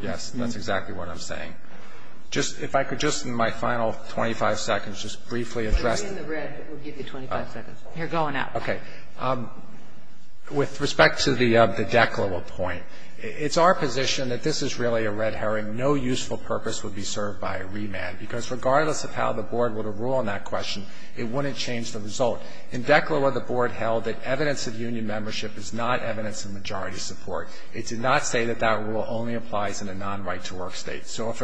Yes, that's exactly what I'm saying. If I could just, in my final 25 seconds, just briefly address. In the red, it will give you 25 seconds. You're going up. Okay. With respect to the DECLA law point, it's our position that this is really a red herring. No useful purpose would be served by a remand, because regardless of how the Board would rule on that question, it wouldn't change the result. In DECLA law, the Board held that evidence of union membership is not evidence of majority support. It did not say that that rule only applies in a non-right-to-work state. So if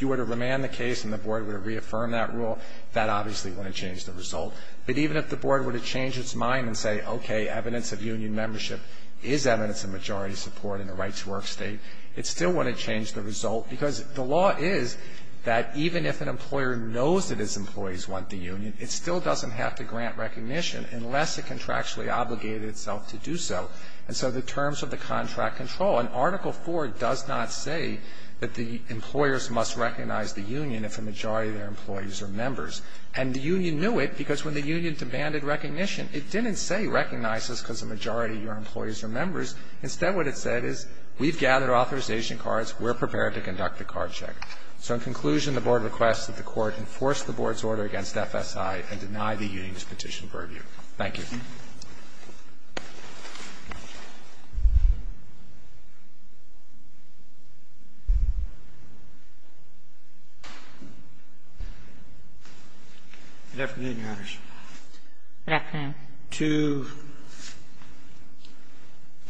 you were to remand the case and the Board would reaffirm that rule, that obviously wouldn't change the result. But even if the Board were to change its mind and say, okay, evidence of union membership is evidence of majority support in a right-to-work state, it still wouldn't change the result. Because the law is that even if an employer knows that its employees want the union, it still doesn't have to grant recognition unless it contractually obligated itself to do so. And so the terms of the contract control. And Article 4 does not say that the employers must recognize the union if a majority of their employees are members. And the union knew it because when the union demanded recognition, it didn't say recognize us because a majority of your employees are members. Instead, what it said is we've gathered authorization cards. We're prepared to conduct a card check. So in conclusion, the Board requests that the Court enforce the Board's order against FSI and deny the union's petition verdict. Thank you. Good afternoon, Your Honors. Good afternoon. To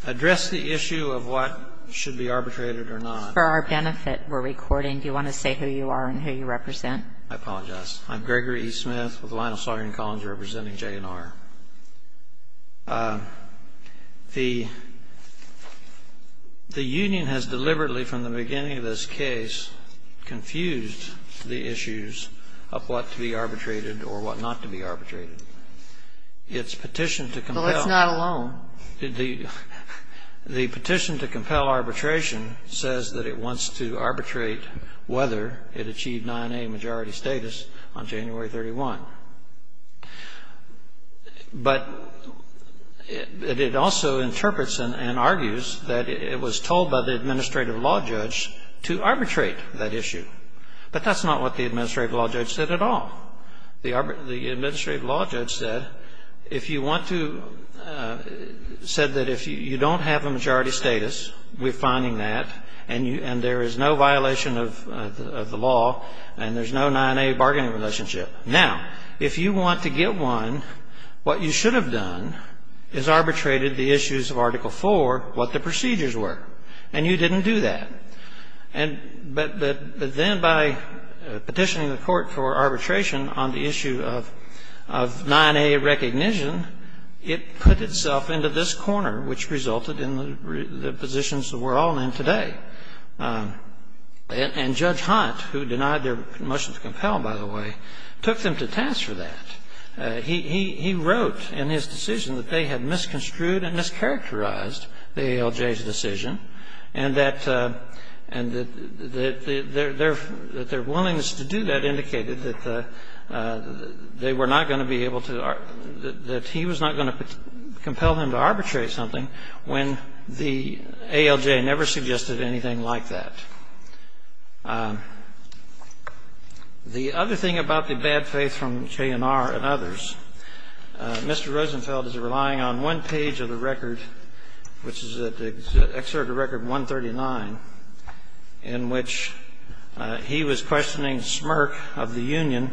address the issue of what should be arbitrated or not. For our benefit, we're recording. Do you want to say who you are and who you represent? I apologize. I'm Gregory E. Smith of the Lionel Sawyer & Collins representing J&R. The union has deliberately, from the beginning of this case, confused the issues of what to be arbitrated or what not to be arbitrated. Its petition to compel. So it's not alone. The petition to compel arbitration says that it wants to arbitrate whether it achieved 9A majority status on January 31. But it also interprets and argues that it was told by the administrative law judge to arbitrate that issue. But that's not what the administrative law judge said at all. The administrative law judge said, if you want to, said that if you don't have majority status, we're finding that, and there is no violation of the law, and there's no 9A bargaining relationship. Now, if you want to get one, what you should have done is arbitrated the issues of Article 4, what the procedures were. And you didn't do that. But then by petitioning the court for arbitration on the issue of 9A recognition, it put itself into this corner, which resulted in the positions that we're all in today. And Judge Hunt, who denied their motion to compel, by the way, took them to task for that. He wrote in his decision that they had misconstrued and mischaracterized the ALJ's decision, and that their willingness to do that indicated that they were not going to be able to, that he was not going to compel them to arbitrate something when the ALJ never suggested anything like that. The other thing about the bad faith from K&R and others, Mr. Rosenfeld is relying on one page of the record, which is Excerpt of Record 139, in which he was questioning Smirk of the union,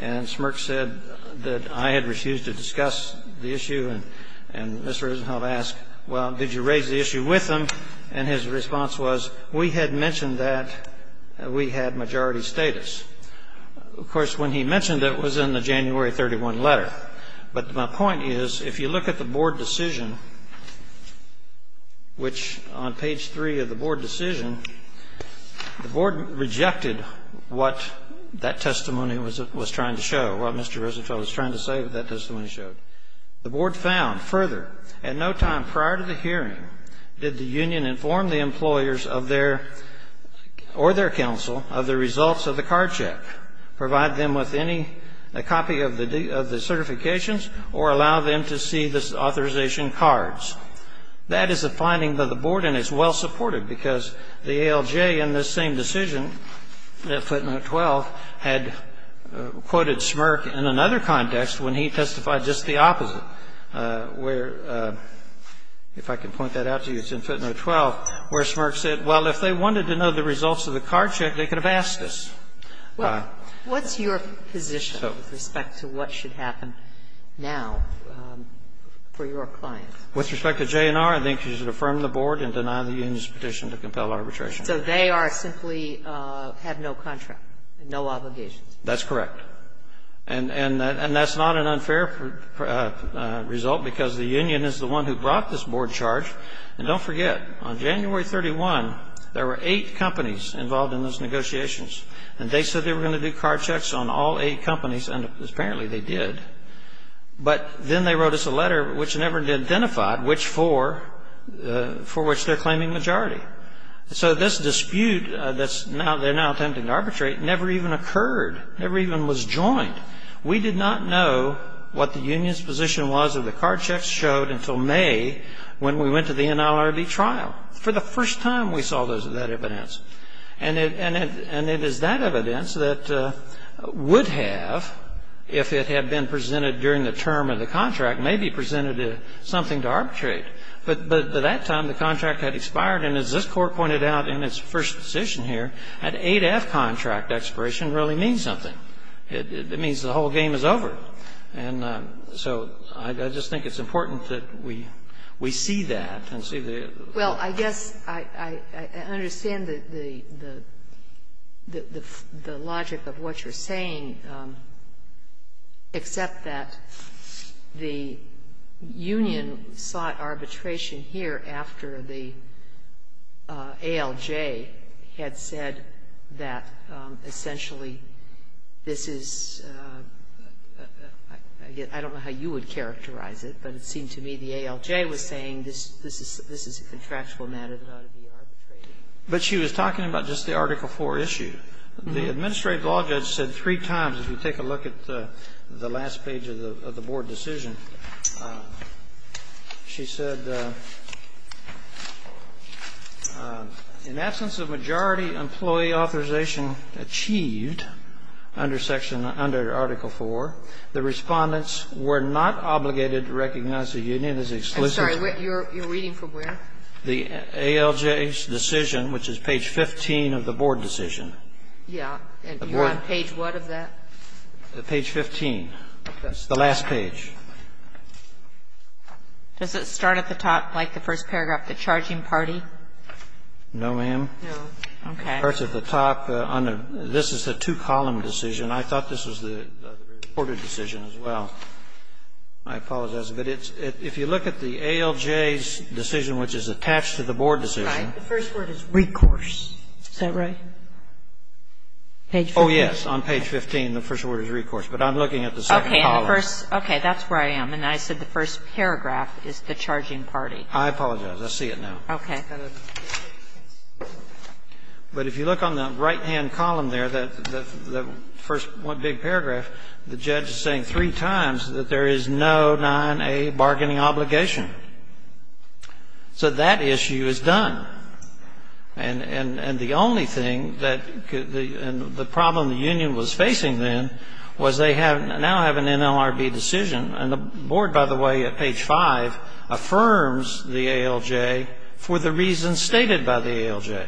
and Smirk said that I had refused to discuss the issue, and Mr. Rosenfeld asked, well, did you raise the issue with them? And his response was, we had mentioned that we had majority status. Of course, when he mentioned it, it was in the January 31 letter. But my point is, if you look at the board decision, which on page 3 of the board decision, the board rejected what that testimony was trying to show, what Mr. Rosenfeld was trying to say that testimony showed. The board found, further, at no time prior to the hearing did the union inform the employers or their counsel of the results of the card check, provide them with a copy of the certifications, or allow them to see the authorization cards. That is the finding of the board, and it's well-supported, because the ALJ in this same decision, that footnote 12, had quoted Smirk in another context when he testified just the opposite, where, if I can point that out so you can see footnote 12, where Smirk said, well, if they wanted to know the results of the card check, they could have asked us. Well, what's your position with respect to what should happen now for your clients? With respect to JNR, I think you should affirm the board and deny the union's petition to compel arbitration. So they are simply have no contract, no obligation? That's correct. And that's not an unfair result, because the union is the one who brought this board charge. And don't forget, on January 31, there were eight companies involved in those negotiations, and they said they were going to do card checks on all eight companies, and apparently they did. But then they wrote us a letter, which never identified which four, for which they're claiming majority. So this dispute that they're now attempting to arbitrate never even occurred, never even was joined. We did not know what the union's position was of the card checks showed until May, when we went to the NLRB trial. For the first time, we saw that evidence. And it is that evidence that would have, if it had been presented during the term of the contract, maybe presented something to arbitrate. But at that time, the contract had expired, and as this Court pointed out in its first decision here, that A to F contract expiration really means something. It means the whole game is over. And so I just think it's important that we see that and see the... that essentially this is... I don't know how you would characterize it, but it seems to me the ALJ was saying this is a contractual matter that ought to be arbitrated. But she was talking about just the Article IV issue. The administrative law judge said three times, if you take a look at the last page of the Board decision, she said, in absence of majority employee authorization achieved under Article IV, the respondents were not obligated to recognize the union as exclusively... I'm sorry, you're reading from where? The ALJ's decision, which is page 15 of the Board decision. Yeah. Page what of that? Page 15. Page 15. That's the last page. Does it start at the top, like the first paragraph, the charging party? No, ma'am. No. Okay. It starts at the top. This is a two-column decision. I thought this was the Board decision as well. I apologize. But if you look at the ALJ's decision, which is attached to the Board decision... The first word is recourse. Is that right? Page 15? Oh, yes. On page 15, the first word is recourse. But I'm looking at the second column. Okay. That's where I am. And I said the first paragraph is the charging party. I apologize. I see it now. Okay. But if you look on the right-hand column there, the first big paragraph, the judge is saying three times that there is no 9A bargaining obligation. So that issue is done. And the only thing that the problem the union was facing then was they now have an NLRB decision. And the Board, by the way, at page 5, affirms the ALJ for the reasons stated by the ALJ.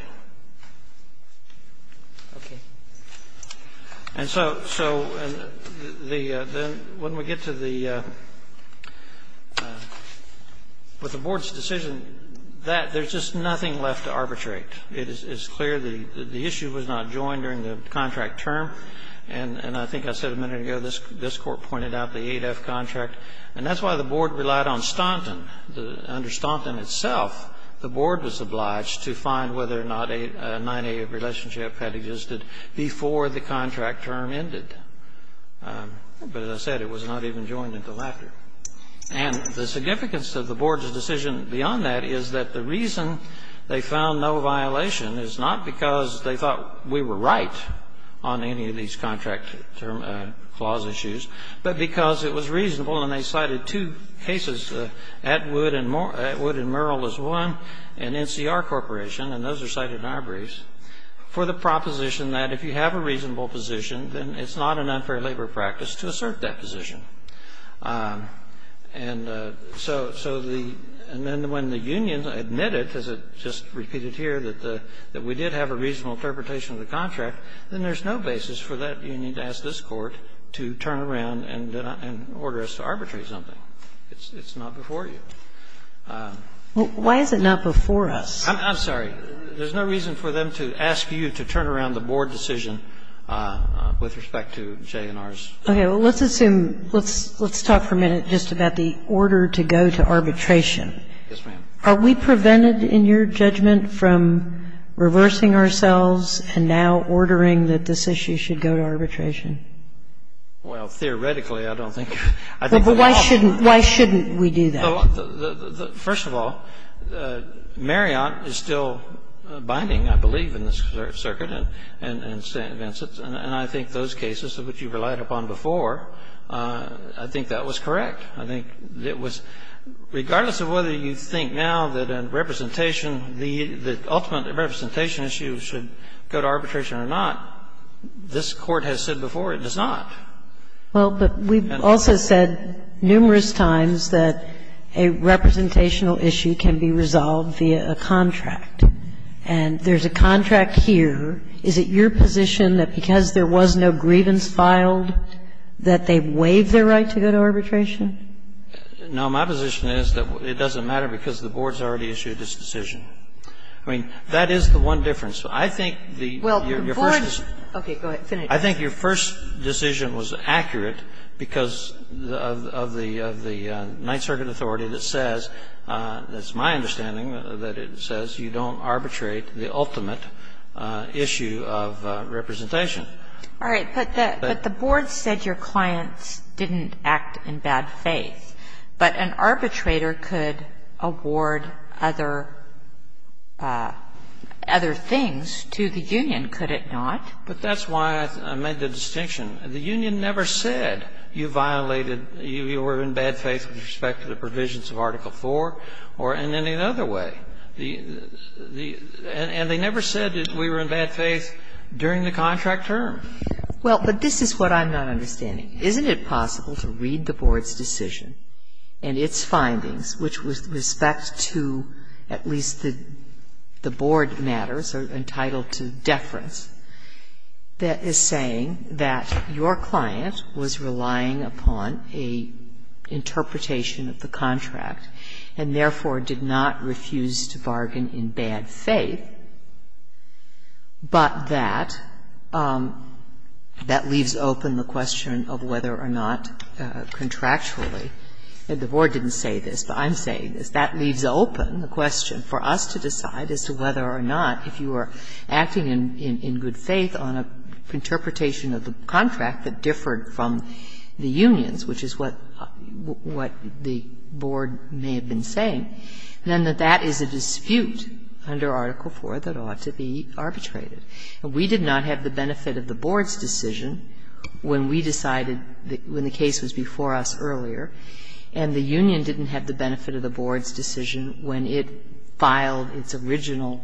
Okay. And so when we get to the Board's decision, there's just nothing left to arbitrate. It's clear the issue was not joined during the contract term. And I think I said a minute ago this Court pointed out the 8F contract. And that's why the Board relied on Staunton. Under Staunton itself, the Board was obliged to find whether or not a 9A relationship had existed before the contract term ended. But as I said, it was not even joined at the latter. And the significance of the Board's decision beyond that is that the reason they found no violation is not because they thought we were right on any of these contract clause issues, but because it was reasonable, and they cited two cases, Atwood and Murrell as one, and NCR Corporation, and those are cited in our briefs, for the proposition that if you have a reasonable position, then it's not an unfair labor practice to assert that position. And so when the union admitted, as it just repeated here, that we did have a reasonable interpretation of the contract, then there's no basis for that union to ask this Court to turn around and order us to arbitrate something. It's not before you. Why is it not before us? I'm sorry. There's no reason for them to ask you to turn around the Board decision with respect to J&R's. Okay. Well, let's assume, let's talk for a minute just about the order to go to arbitration. Yes, ma'am. Are we prevented in your judgment from reversing ourselves and now ordering that this issue should go to arbitration? Well, theoretically, I don't think. Why shouldn't we do that? First of all, Marriott is still binding, I believe, in this circuit and St. Vincent's, and I think those cases, which you relied upon before, I think that was correct. I think it was, regardless of whether you think now that in representation, the ultimate representation issue should go to arbitration or not, this Court has said before it does not. Well, but we've also said numerous times that a representational issue can be resolved via a contract. And there's a contract here. Is it your position that because there was no grievance filed, that they waived their right to go to arbitration? No. My position is that it doesn't matter because the Board's already issued its decision. I mean, that is the one difference. I think the Board's. Okay. Go ahead. Finish. I think your first decision was accurate because of the Ninth Circuit authority that says, that's my understanding, that it says you don't arbitrate the ultimate issue of representation. All right. But the Board said your client didn't act in bad faith. But an arbitrator could award other things to the union, could it not? But that's why I made the distinction. The union never said you violated, you were in bad faith with respect to the provisions of Article IV or in any other way. And they never said that we were in bad faith during the contract term. Well, but this is what I'm not understanding. Isn't it possible to read the Board's decision and its findings, which with respect to at least the Board matters, are entitled to deference, that is saying that your client was relying upon an interpretation of the contract and therefore did not refuse to bargain in bad faith, but that leaves open the question of whether or not contractually, and the Board didn't say this, but I'm saying this, that leaves open the question for us to decide as to whether or not if you were acting in good faith on an interpretation of the contract that differed from the union's, which is what the Board may have been saying, then that that is a dispute under Article IV that ought to be arbitrated. We did not have the benefit of the Board's decision when we decided, when the case was before us earlier, and the union didn't have the benefit of the Board's decision when it filed its original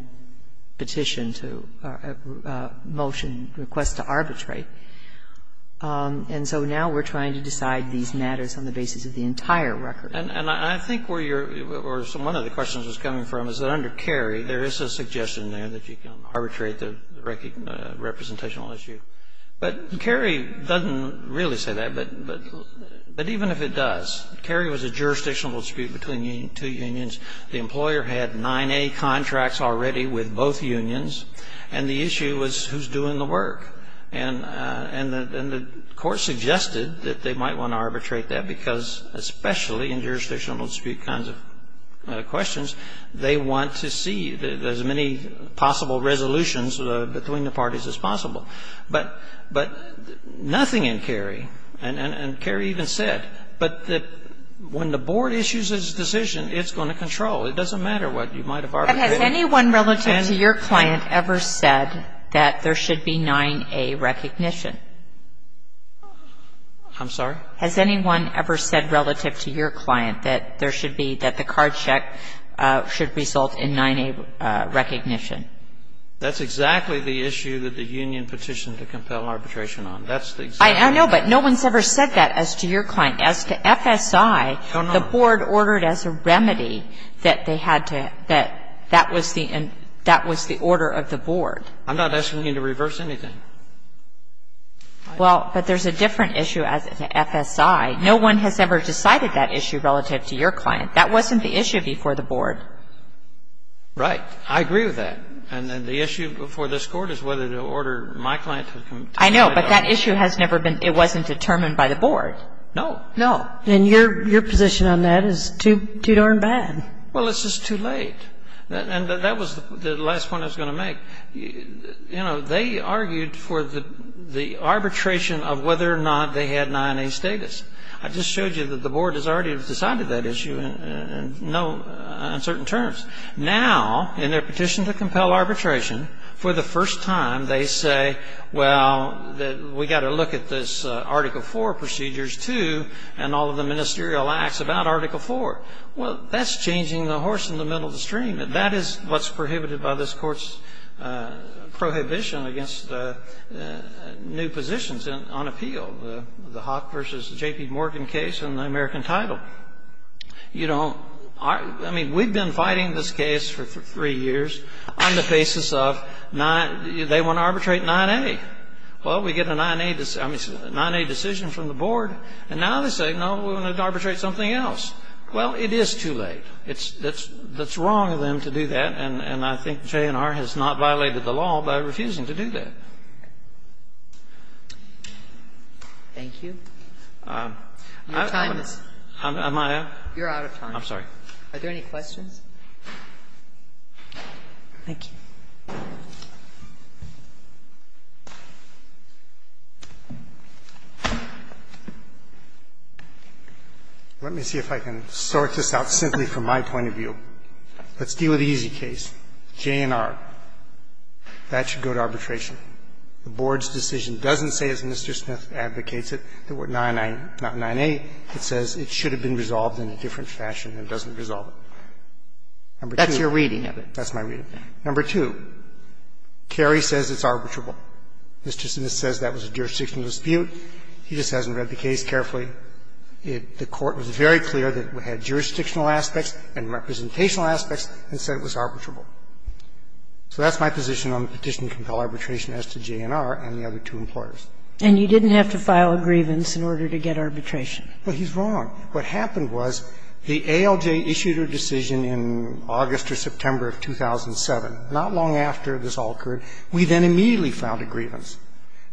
petition to motion, request to arbitrate. And so now we're trying to decide these matters on the basis of the entire record. And I think where you're or one of the questions was coming from is that under Cary, there is a suggestion there that you can arbitrate the representational issue. But Cary doesn't really say that, but even if it does, Cary was a jurisdictional dispute between two unions. The employer had 9A contracts already with both unions, and the issue was who's doing the work. And the Court suggested that they might want to arbitrate that because, especially in jurisdictional dispute kinds of questions, they want to see as many possible resolutions between the parties as possible. But nothing in Cary, and Cary even said, but that when the Board issues its decision, it's going to control. It doesn't matter what you might have arbitrated. And has anyone relative to your client ever said that there should be 9A recognition? I'm sorry? Has anyone ever said relative to your client that there should be, that the card check should result in 9A recognition? That's exactly the issue that the union petitioned to compel arbitration on. I know, but no one's ever said that as to your client. As to FSI, the Board ordered as a remedy that they had to, that that was the order of the Board. I'm not asking you to reverse anything. Well, but there's a different issue as to FSI. No one has ever decided that issue relative to your client. That wasn't the issue before the Board. Right. I agree with that. And the issue before this Court is whether to order my client to... I know, but that issue has never been, it wasn't determined by the Board. No. No. Then your position on that is too darn bad. Well, it's just too late. And that was the last point I was going to make. You know, they argued for the arbitration of whether or not they had 9A status. I just showed you that the Board has already decided that issue in certain terms. Now, in their petition to compel arbitration, for the first time, they say, well, we've got to look at this Article IV procedures too and all of the ministerial acts about Article IV. Well, that's changing the horse in the middle of the stream. That is what's prohibited by this Court's prohibition against new positions on appeal, the Hock v. J.P. Morgan case in the American title. You know, I mean, we've been fighting this case for three years on the basis of they want to arbitrate 9A. Well, we get a 9A decision from the Board, and now they say, no, we're going to arbitrate something else. Well, it is too late. It's wrong of them to do that, and I think JNR has not violated the law by refusing to do that. Thank you. Am I out? You're out of time. I'm sorry. Are there any questions? Thank you. Let me see if I can sort this out simply from my point of view. Let's deal with the easy case, JNR. That should go to arbitration. The Board's decision doesn't say, as Mr. Smith advocates it, that we're 9A. It says it should have been resolved in a different fashion and doesn't resolve it. That's your reading, I think. That's my reading. Number two, Kerry says it's arbitrable. Mr. Smith says that was a jurisdictional dispute. He just hasn't read the case carefully. The Court was very clear that it had jurisdictional aspects and representational aspects and said it was arbitrable. So that's my position on the petition to compel arbitration as to JNR and the other two employers. And you didn't have to file a grievance in order to get arbitration. Well, he's wrong. What happened was the ALJ issued a decision in August or September of 2007. Not long after this all occurred, we then immediately filed a grievance.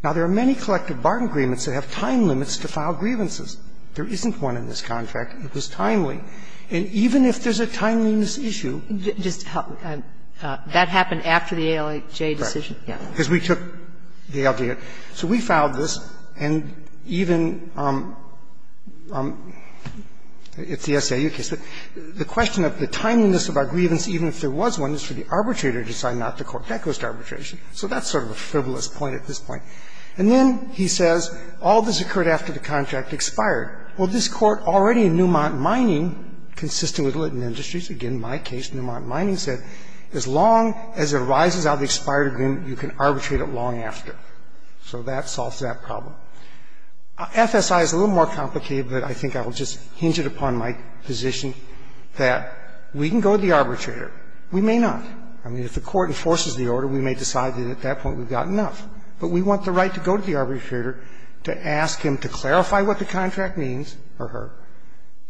Now, there are many collective bargain agreements that have time limits to file grievances. There isn't one in this contract. It was timely. And even if there's a timeliness issue. That happened after the ALJ decision? Right. Because we took the ALJ. So we filed this. And even if the SAU case. The question of the timeliness of our grievance, even if there was one, is for the arbitrator to decide not to court. That goes to arbitration. So that's sort of a frivolous point at this point. And then he says all this occurred after the contract expired. Well, this Court already in Newmont Mining, consistent with Littman Industries, again, my case, Newmont Mining, said as long as it arises out of the expired agreement, you can arbitrate it long after. So that solves that problem. FSI is a little more complicated, but I think I will just hinge it upon my position that we can go to the arbitrator. We may not. I mean, if the Court enforces the order, we may decide that at that point we've got enough. But we want the right to go to the arbitrator to ask him to clarify what the contract means for her.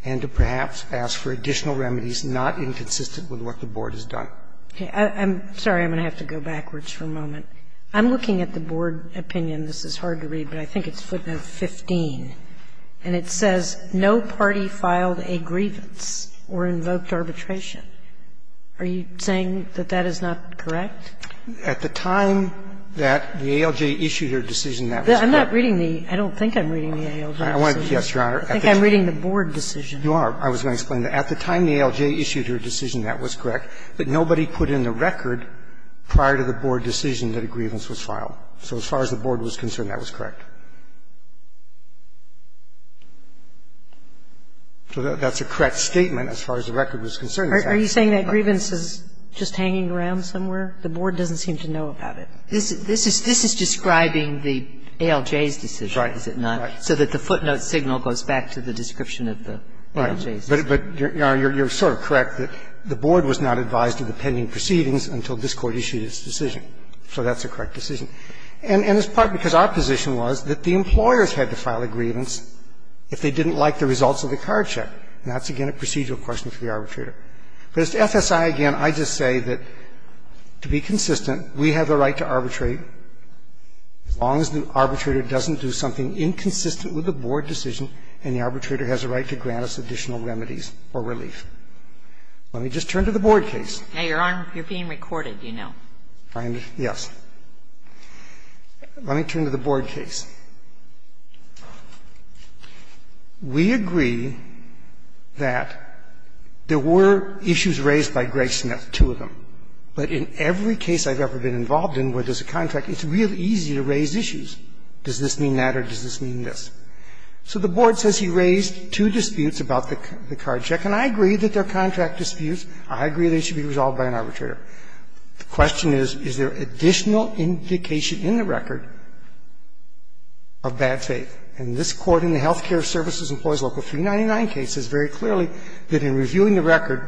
And to perhaps ask for additional remedies not inconsistent with what the Board has done. I'm sorry. I'm going to have to go backwards for a moment. I'm looking at the Board opinion. This is hard to read, but I think it's footnote 15. And it says no party filed a grievance or invoked arbitration. Are you saying that that is not correct? At the time that the ALJ issued her decision, that was correct. I'm not reading the ALJ. I don't think I'm reading the ALJ. I wanted to get your honor. I think I'm reading the Board decision. You are. I was going to explain. At the time the ALJ issued her decision, that was correct. But nobody put in the record prior to the Board decision that a grievance was filed. So as far as the Board was concerned, that was correct. So that's a correct statement as far as the record was concerned. Are you saying that grievance is just hanging around somewhere? The Board doesn't seem to know about it. This is describing the ALJ's decision, is it not? Right. So that the footnote signal goes back to the description of the ALJ's. Right. But, Your Honor, you're sort of correct. The Board was not advised of the pending proceedings until this Court issued its decision. So that's a correct decision. And it's partly because our position was that the employers had to file a grievance if they didn't like the results of the card check. And that's, again, a procedural question for the arbitrator. But as to FSI, again, I just say that to be consistent, we have a right to arbitrate as long as the arbitrator doesn't do something inconsistent with the Board decision and the arbitrator has a right to grant us additional remedies or relief. Let me just turn to the Board case. Now, Your Honor, you're being recorded, you know. Yes. Let me turn to the Board case. We agree that there were issues raised by Greg Smith, two of them. But in every case I've ever been involved in where there's a contract, it's really easy to raise issues. Does this mean that or does this mean this? So the Board says he raised two disputes about the card check, and I agree that they're contract disputes. I agree they should be resolved by an arbitrator. The question is, is there additional indication in the record of bad faith? And this court in the Health Care Services Employees Local 399 case says very clearly that in reviewing the record,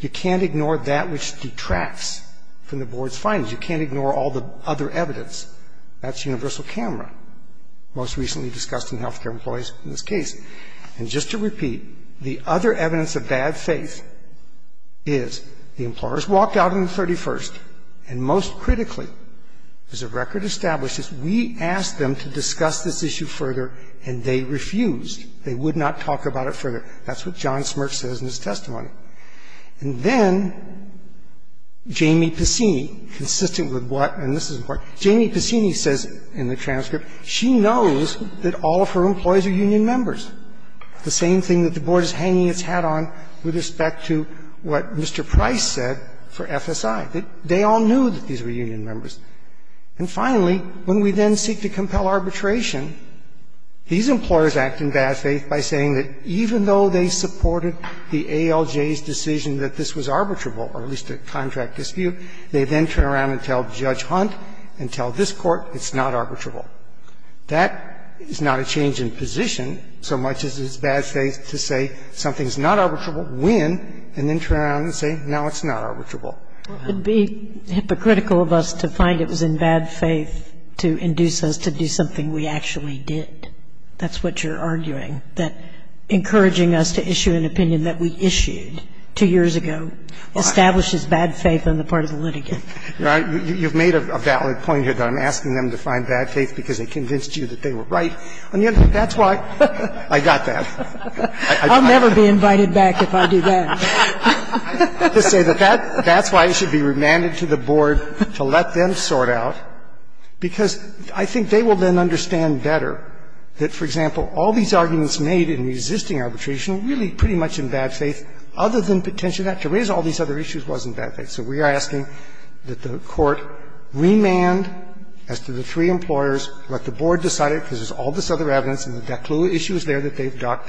you can't ignore that which detracts from the Board's findings. You can't ignore all the other evidence. That's universal camera, most recently discussed in health care employees in this case. And just to repeat, the other evidence of bad faith is the employers walked out on the 31st, and most critically, as the record establishes, we asked them to discuss this issue further, and they refused. They would not talk about it further. That's what John Smirch says in his testimony. And then Jamie Taccini, consistent with what, and this is important, Jamie Taccini says in the transcript, she knows that all of her employees are union members, the same thing that the Board is hanging its hat on with respect to what Mr. Price said for FSI, that they all knew that these were union members. And finally, when we then seek to compel arbitration, these employers act in bad faith by saying that even though they supported the ALJ's decision that this was arbitrable, or at least a contract dispute, they then turn around and tell Judge Hunt and tell this Court it's not arbitrable. That is not a change in position so much as it's bad faith to say something's not arbitrable when, and then turn around and say, no, it's not arbitrable. It would be hypocritical of us to find it was in bad faith to induce us to do something we actually did. That's what you're arguing, that encouraging us to issue an opinion that we issued two years ago establishes bad faith on the part of the litigant. You've made a valid point here that I'm asking them to find bad faith because they convinced you that they were right. And yet that's why I got that. I'll never be invited back if I do that. That's why it should be remanded to the Board to let them sort out, because I think they will then understand better that, for example, all these arguments made in the existing arbitration are really pretty much in bad faith, other than the tension that to raise all these other issues wasn't bad faith. So we are asking that the Court remand as to the three implorers, let the Board decide it, because there's all this other evidence and the clue issue is there that they've got,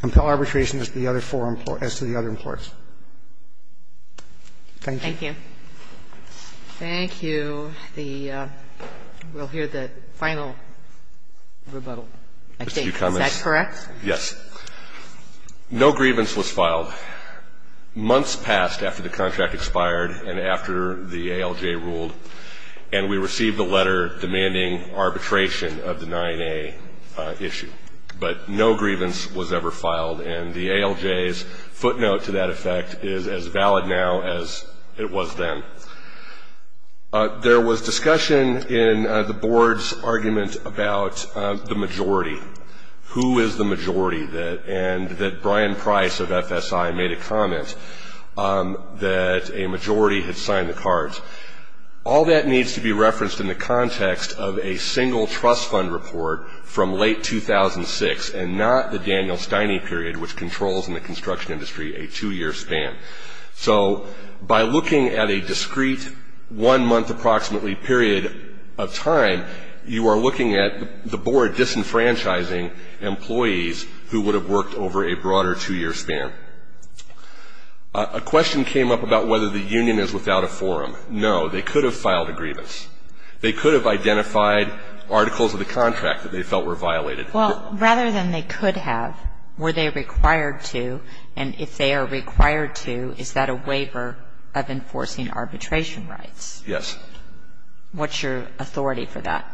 compel arbitration as to the other four implorers, as to the other implorers. Thank you. Thank you. Thank you. The we'll hear the final rebuttal, I think. Is that correct? Yes. No grievance was filed. Months passed after the contract expired and after the ALJ ruled, and we received a letter demanding arbitration of the 9A issue. But no grievance was ever filed, and the ALJ's footnote to that effect is as valid now as it was then. There was discussion in the Board's argument about the majority. Who is the majority? And that Brian Price of FSI made a comment that a majority had signed the cards. All that needs to be referenced in the context of a single trust fund report from late 2006 and not the Daniel Steine period, which controls in the construction industry a two-year span. So by looking at a discrete one-month approximately period of time, you are looking at the Board disenfranchising employees who would have worked over a broader two-year span. A question came up about whether the union is without a forum. No, they could have filed a grievance. They could have identified articles of the contract that they felt were violated. Well, rather than they could have, were they required to? And if they are required to, is that a waiver of enforcing arbitration rights? Yes. What's your authority for that?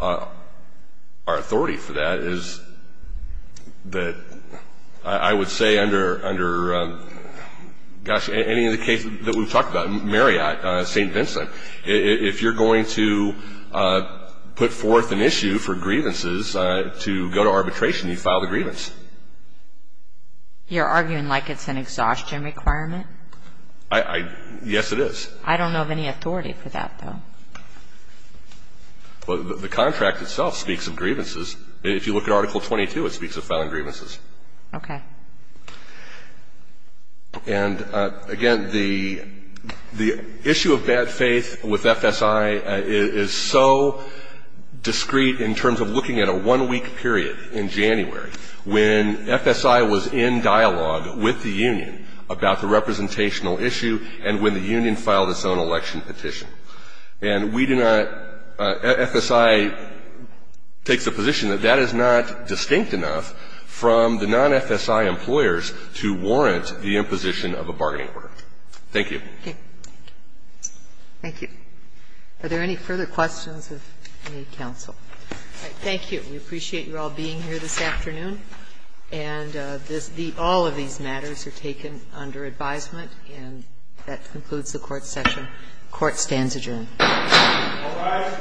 Our authority for that is that I would say under any of the cases that we've talked about, Marriott, St. Vincent, if you're going to put forth an issue for grievances to go to arbitration, you file the grievance. You're arguing like it's an exhaustion requirement? Yes, it is. I don't know of any authority for that, though. Well, the contract itself speaks of grievances. If you look at Article 22, it speaks of found grievances. Okay. And, again, the issue of bad faith with FSI is so discrete in terms of looking at a one-week period in January when FSI was in dialogue with the union about the representational issue and when the union filed its own election petition. And we do not at FSI take the position that that is not distinct enough from the non-FSI employers to warrant the imposition of a bargaining part. Thank you. Okay. Thank you. Are there any further questions of any counsel? Thank you. We appreciate you all being here this afternoon. And all of these matters are taken under advisement. And that concludes the court session. The court stands adjourned. All rise. The court is adjourned.